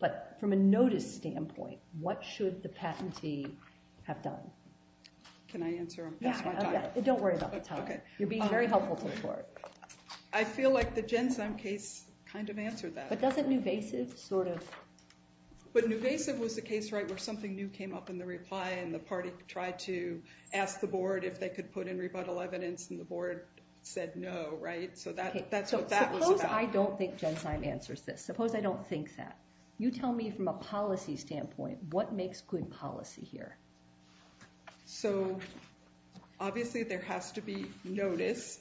But from a notice standpoint, what should the patentee have done? Can I answer? Don't worry about the time. You're being very helpful for the board. I feel like the Gensum case kind of answered that. But doesn't Nuvasiv sort of... But Nuvasiv was the case, right, where something new came up in the reply and the party tried to ask the board if they could put in rebuttal evidence and the board said no, right? So that's what that was about. Suppose I don't think Gensum answers this. Suppose I don't think that. You tell me from a policy standpoint, what makes good policy here? So obviously there has to be notice.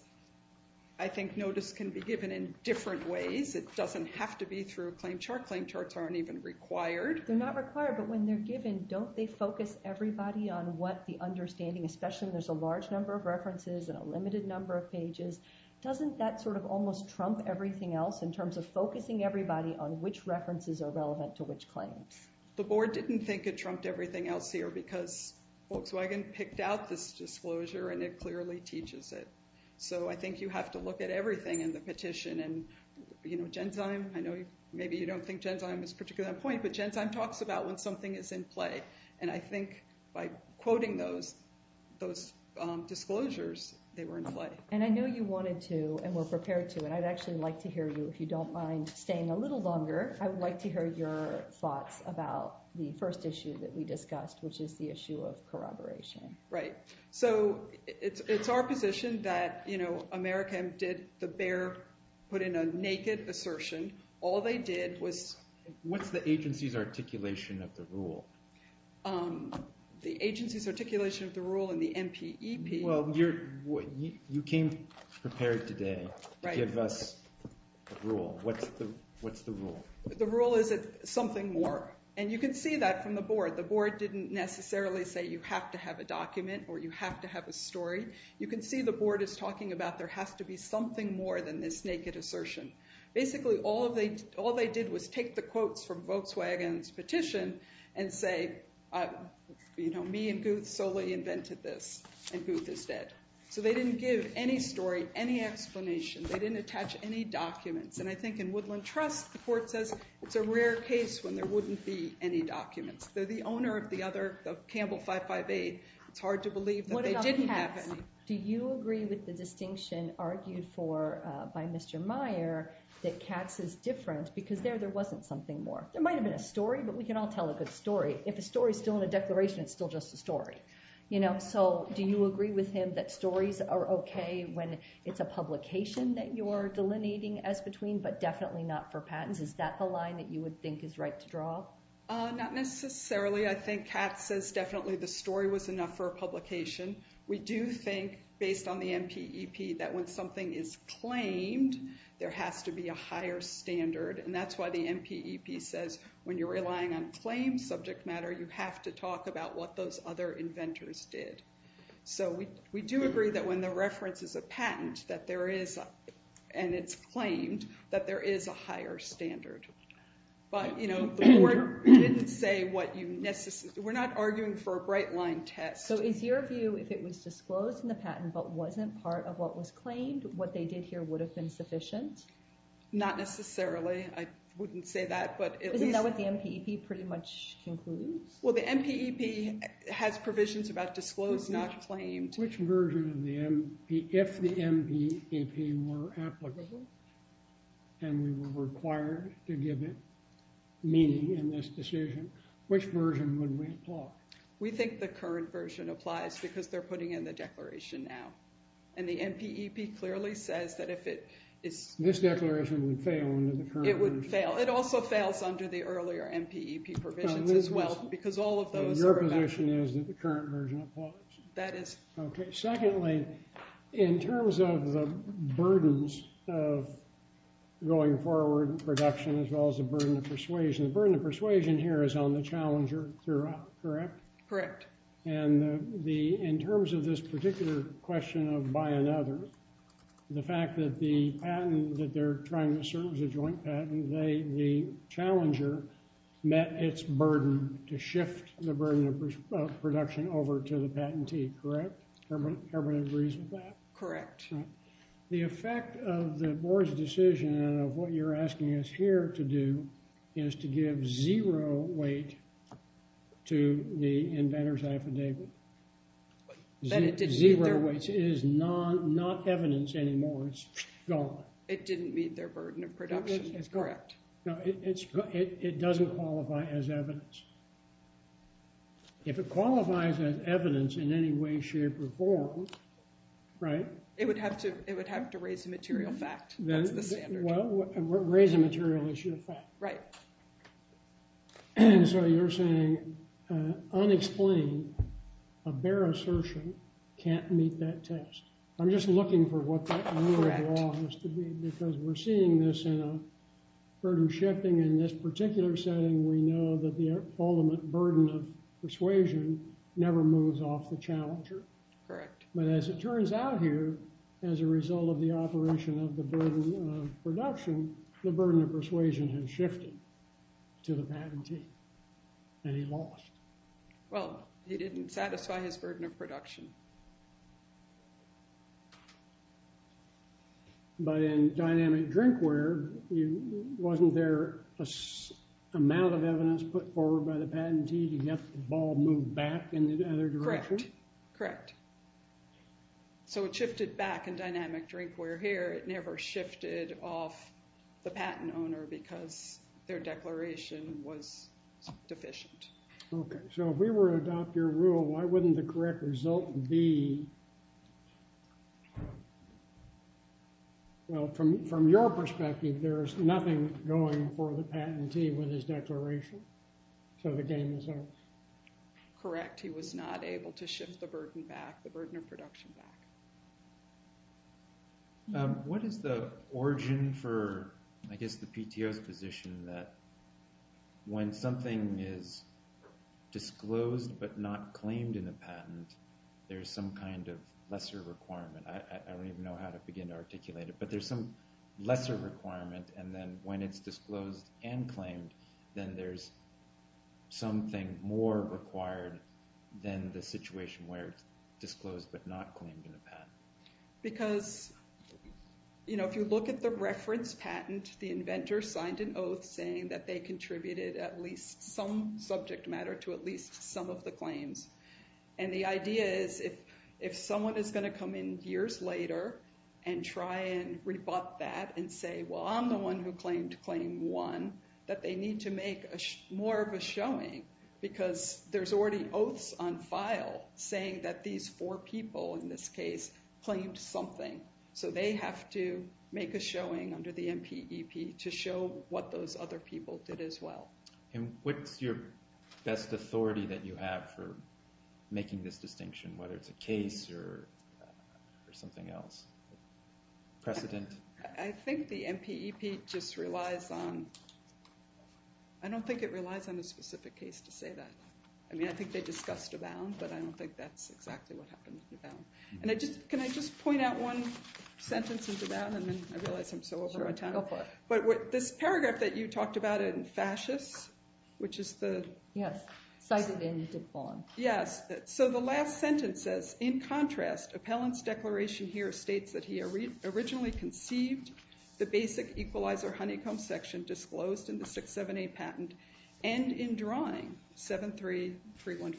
I think notice can be given in different ways. It doesn't have to be through a claim chart. Claim charts aren't even required. They're not required, but when they're given, don't they focus everybody on what the understanding, especially when there's a large number of references and a limited number of pages? Doesn't that sort of almost trump everything else in terms of focusing everybody on which references are relevant to which claim? The board didn't think it trumped everything else here because Volkswagen picked out this disclosure and it clearly teaches it. So I think you have to look at everything in the petition. And Gensum, I know maybe you don't think Gensum is particularly on point, but Gensum talks about when something is in play. And I think by quoting those disclosures, they were in play. And I know you wanted to and were prepared to, and I'd actually like to hear you, if you don't mind staying a little longer. I would like to hear your thoughts about the first issue that we discussed, which is the issue of corroboration. Right. So it's our position that Americans did the bare, put in a naked assertion. All they did was... What's the agency's articulation of the rule? The agency's articulation of the rule in the NPEP... Well, you came prepared today to give us the rule. What's the rule? The rule is it's something more. And you can see that from the board. The board didn't necessarily say you have to have a document or you have to have a story. You can see the board is talking about there has to be something more than this naked assertion. Basically, all they did was take the quotes from Volkswagen's petition and say, you know, me and Guth solely invented this, and Guth has said. So they didn't give any story, any explanation. They didn't attach any documents. And I think in Woodland Trust, the board says it's a rare case when there wouldn't be any documents. So the owner of the other, of Campbell 558, it's hard to believe that they didn't have any. Do you agree with the distinction argued for by Mr. Meyer that Katz is different because there, there wasn't something more? There might have been a story, but we can all tell a good story. If a story is still in a declaration, it's still just a story, you know? So do you agree with him that stories are okay when it's a publication that you're delineating as between, but definitely not for patents? Is that the line that you would think is right to draw? Not necessarily. I think Katz says definitely the story was enough for a publication. We do think, based on the MPEP, that when something is claimed, there has to be a higher standard, and that's why the MPEP says when you're relying on plain subject matter, you have to talk about what those other inventors did. So we do agree that when the reference is a patent, that there is, and it's claimed, that there is a higher standard. But, you know, we didn't say what you necessarily, we're not arguing for a bright line test. So is your view if it was disclosed in the patent but wasn't part of what was claimed, what they did here would have been sufficient? Not necessarily. I wouldn't say that, but... Isn't that what the MPEP pretty much concluded? Well, the MPEP has provisions about disclosed, not claimed. Which version of the MPEP, if the MPEP were applicable, and we were required to give it meaning in this decision, which version would we talk? We think the current version applies because they're putting in the declaration now. And the MPEP clearly says that if it is... This declaration would fail under the current version. It would fail. It also fails under the earlier MPEP provisions as well because all of those... Your position is that the current version applies. That is... Okay. Secondly, in terms of the burdens of going forward production as well as the burden of persuasion, the burden of persuasion here is on the challenger, correct? Correct. And in terms of this particular question of buy another, the fact that the patent, that they're trying to serve as a joint patent, the challenger met its burden to shift the burden of production over to the patentee, correct? Everybody agrees with that? Correct. The effect of the board's decision of what you're asking us here to do is to give zero weight to the inventor's affidavit. Zero weight is not evidence anymore. It's gone. It didn't meet their burden of production. It's correct. No, it doesn't qualify as evidence. If it qualifies as evidence in any way, shape, or form, right? It would have to raise the material fact. Well, raise the material issue. Right. And so you're saying, unexplained, a bare assertion can't meet that test. I'm just looking for what that rule of law has to be because we're seeing this in a burden shifting in this particular setting. We know that the ultimate burden of persuasion never moves off the challenger. Correct. But as it turns out here, as a result of the operation of the burden of production, the burden of persuasion has shifted to the patentee. And he lost. Well, he didn't satisfy his burden of production. But in dynamic drinkware, wasn't there an amount of evidence put forward by the patentee to get the ball moved back in the other direction? Correct. Correct. So it shifted back in dynamic drinkware here. It never shifted off the patent owner because their declaration was deficient. OK. So if we were to adopt your rule, why wouldn't the correct result be, well, from your perspective, there is nothing going for the patentee with his declaration? So the game is on. Correct. He was not able to shift the burden back, the burden of production back. What is the origin for, I guess, the PTO's position that when something is disclosed but not claimed in a patent, there's some kind of lesser requirement? I don't even know how to begin to articulate it. But there's some lesser requirement. And then when it's disclosed and claimed, then there's something more required than the situation where it's disclosed but not claimed in a patent. Because if you look at the reference patents, the inventor signed an oath saying that they contributed at least some subject matter to at least some of the claims. And the idea is if someone is going to come in years later and try and rebut that and say, well, I'm the one who claimed claim one, that they need to make more of a showing because there's already oaths on file saying that these four people, in this case, claimed something. So they have to make a showing under the MPEP to show what those other people did as well. And what's your best authority that you have for making this distinction, whether it's a case or something else? Precedence? I think the MPEP just relies on, I don't think it relies on a specific case to say that. I mean, I think they discussed the bounds, but I don't think that's exactly what happens with that one. And can I just point out one sentence into that? And then I realize I'm so over time. But this paragraph that you talked about it in fascist, which is the? Yes. Seizure ban is a bond. Yes. So the last sentence says, in contrast, appellant's declaration here states that he originally conceived the basic equalizer honeycomb section disclosed in the 678 patent and in drawing 73315.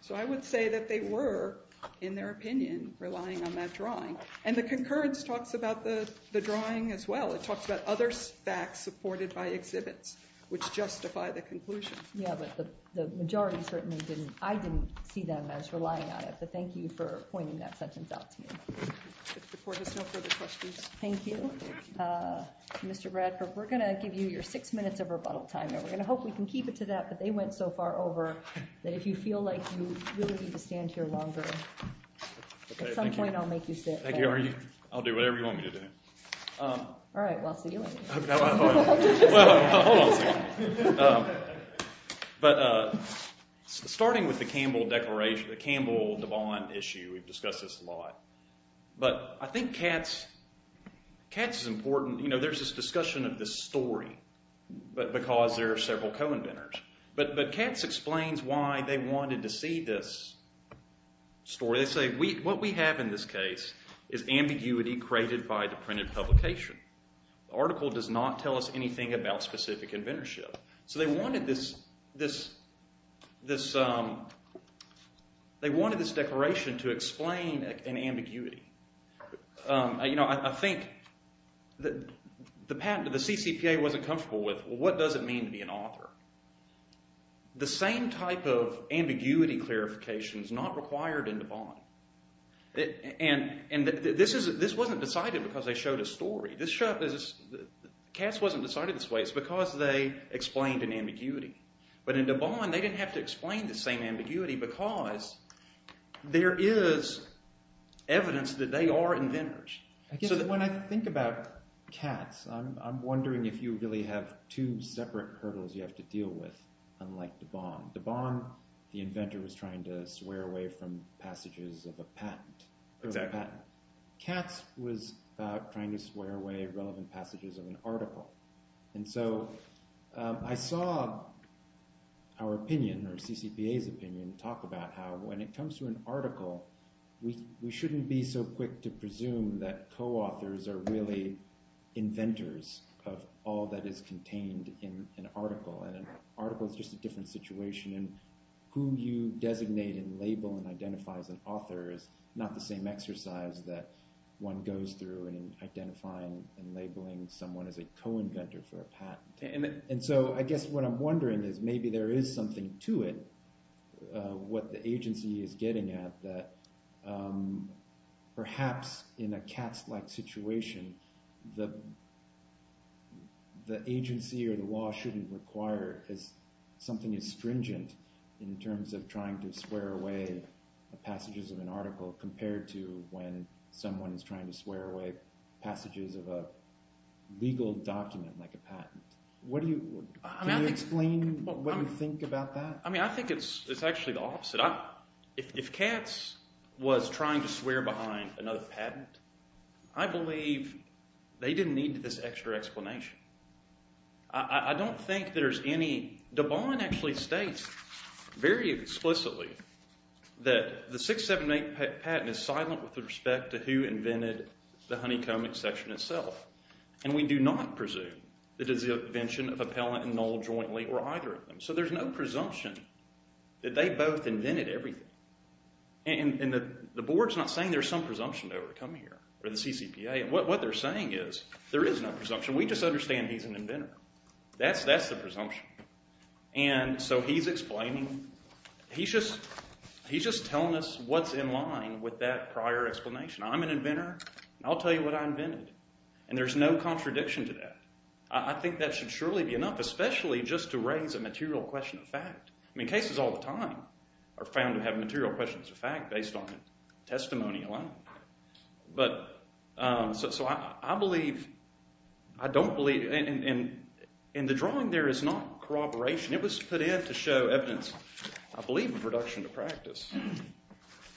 So I would say that they were, in their opinion, relying on that drawing. And the concurrence talks about the drawing as well. It talks about other facts supported by exhibits, which justify the conclusion. Yeah, but the majority certainly didn't. I didn't see them as relying on it. But thank you for pointing that sentence out to me. If the court has no further questions. Thank you. Mr. Bradford, we're going to give you your six minutes of rebuttal time. And we're going to hope we can keep it to that. But they went so far over that if you feel like you really need to stand here longer, at some point I'll make you sit. Thank you. I'll do whatever you want me to do. All right, we'll see you later. Well, hold on. But starting with the Campbell bond issue, we've discussed this a lot. But I think Kat's important. You know, there's this discussion of this story because there are several co-inventors. But Kat's explains why they wanted to see this story. They say, what we have in this case is ambiguity created by the printed publication. The article does not tell us anything about specific inventorship. So they wanted this declaration to explain an ambiguity. I think the patent that the CCPA wasn't comfortable with, what does it mean to be an author? The same type of ambiguity clarification is not required in the bond. And this wasn't decided because they showed a story. Kat's wasn't decided this way. It's because they explained an ambiguity. But in the bond, they didn't have to explain the same ambiguity because there is evidence that they are inventors. When I think about Kat's, I'm wondering if you really have two separate hurdles you have to deal with, unlike the bond. The bond, the inventor is trying to swear away from passages of a patent. Kat's was trying to swear away relevant passages of an article. And so I saw our opinion, or CCPA's opinion, talk about how when it comes to an article, we shouldn't be so quick to presume that co-authors are really inventors of all that is contained in an article. An article is just a different situation. And who you designate and label and identify as an author is not the same exercise that one goes through in identifying and labeling someone as a co-inventor for a patent. And so I guess what I'm wondering is maybe there is something to it, what the agency is getting at, that perhaps in a Kat's-like situation, the agency or the law shouldn't require something as stringent in terms of trying to swear away the passages of an article compared to when someone is trying to swear away passages of a legal document, like a patent. Can you explain what you think about that? I mean, I think it's actually the opposite. If Kat's was trying to swear behind another patent, I believe they didn't need this extra explanation. I don't think there's any. Devon actually states very explicitly that the 678 patent is silent with respect to who invented the honeycombing section itself. And we do not presume that it is the invention of Appellant and Knoll jointly or either of them. So there's no presumption that they both invented everything. And the board's not saying there's some presumption to overcome here, or the CCPA. What they're saying is there is no presumption. We just understand he's an inventor. That's the presumption. And so he's explaining, he's just telling us what's in line with that prior explanation. I'm an inventor. I'll tell you what I invented. And there's no contradiction to that. I think that should surely be enough, especially just to raise a material question of fact. I mean, cases all the time are found to have material questions of fact based on testimony alone. But so I believe, I don't believe, in the drawing there is not corroboration. It was that he had to show evidence, I believe, in production to practice.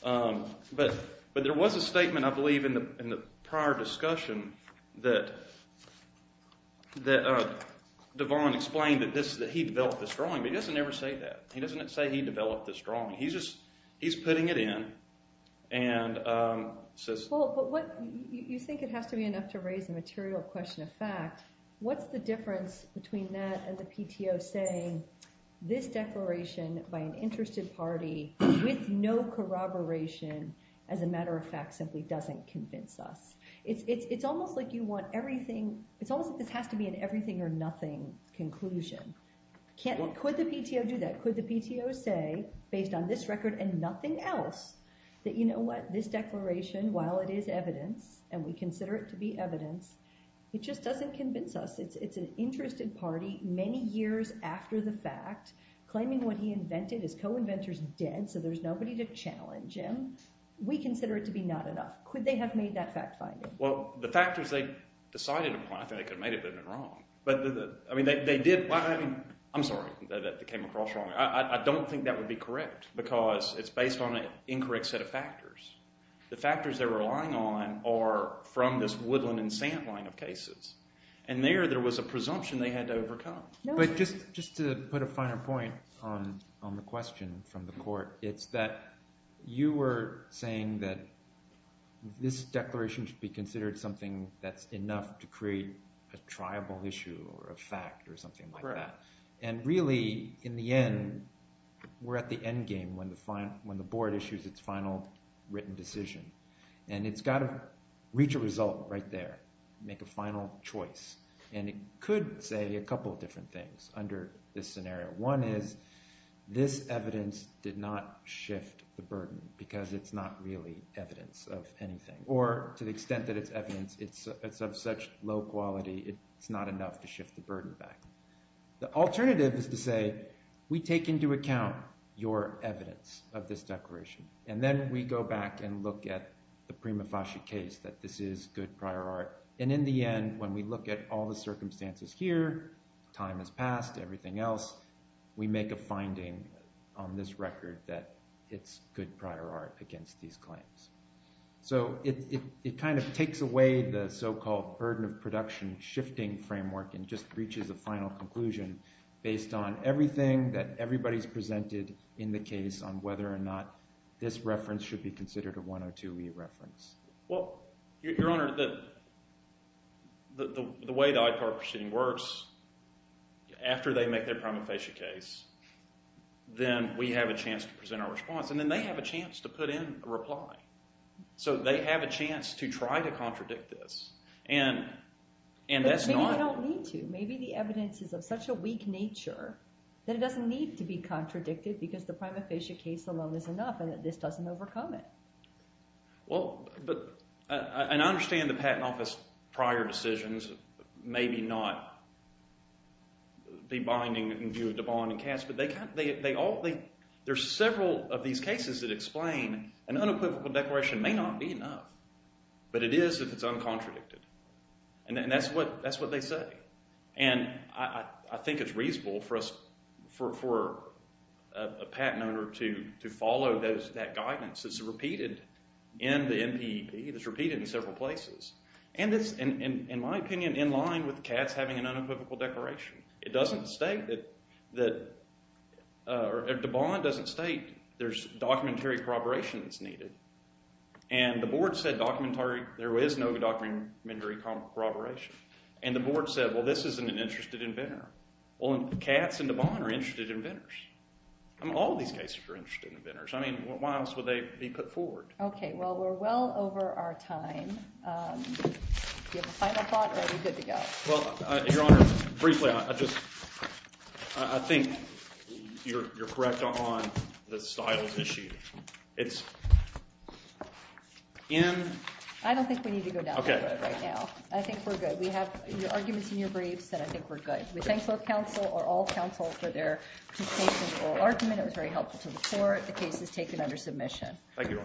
But there was a statement, I believe, in the prior discussion that Devon explained that he developed this drawing. But he doesn't ever say that. He doesn't say he developed this drawing. He's putting it in and says. Well, you think it has to be enough to raise a material question of fact. What's the difference between that and the PTO saying, with no corroboration, as a matter of fact, simply doesn't convince us. It's almost like you want everything, it's almost like it has to be an everything or nothing conclusion. Can't let, could the PTO do that? Could the PTO say, based on this record and nothing else, that you know what, this declaration, while it is evidence, and we consider it to be evidence, it just doesn't convince us. It's an interested party, many years after the fact, claiming what he invented, his co-inventor's dead, so there's nobody to challenge him. We consider it to be not enough. Could they have made that fact finding? Well, the factors they decided upon, I think they could have made it in the drawing. But, I mean, they did find, I'm sorry, that they came across wrong. I don't think that would be correct, because it's based on an incorrect set of factors. The factors they're relying on are from this woodland and sand line of cases. And there, there was a presumption they had to overcome. But just to put a finer point on the question from the court, it's that you were saying that this declaration should be considered something that's enough to create a triable issue or a fact or something like that. Correct. And really, in the end, we're at the end game when the board issues its final written decision. And it's got to reach a result right there, make a final choice. And it could say a couple of different things under this scenario. One is, this evidence did not shift the burden, because it's not really evidence of anything. Or, to the extent that it's evidence, it's of such low quality, it's not enough to shift the burden back. The alternative is to say, we take into account your evidence of this declaration. And then we go back and look at the Prima Fasci case, that this is good prior art. And in the end, when we look at all the circumstances here, time has passed, everything else, we make a finding on this record that it's good prior art against these claims. So it kind of takes away the so-called burden of production shifting framework and just reaches a final conclusion based on everything that everybody's presented in the case on whether or not this reference should be considered a 102E reference. Well, Your Honor, the way the IFAR proceeding works, after they make their Prima Fasci case, then we have a chance to present our response. And then they have a chance to put in a reply. So they have a chance to try to contradict this. But they don't need to. Maybe the evidence is of such a weak nature that it doesn't need to be contradicted because the Prima Fasci case alone is enough and that this doesn't overcome it. Well, and I understand the Patent Office prior decisions maybe not be binding in view of Devon and Cass, but there's several of these cases that explain an unequivocal declaration may not be enough, but it is if it's uncontradicted. And that's what they say. And I think it's reasonable for a patent owner to follow that guidance. It's repeated in the NPEP. It's repeated in several places. And it's, in my opinion, in line with Cass having an unequivocal declaration. It doesn't state that... Devon doesn't state there's documentary corroboration that's needed. And the board said there is no documentary corroboration. And the board said, well, this isn't an interested inventor. Well, Cass and Devon are interested inventors. All these cases are interested inventors. I mean, why else would they be put forward? Okay, well, we're well over our time. Do you have a final thought, or are we good to go? Well, Your Honor, briefly, I think you're correct on the styles issue. It's in... I don't think we need to go down that road right now. I think we're good. We have your arguments in your brief, and I think we're good. We thank both counsel, or all counsel, for their persuasive oral argument. It was very helpful to the court. The case is taken under submission. Thank you.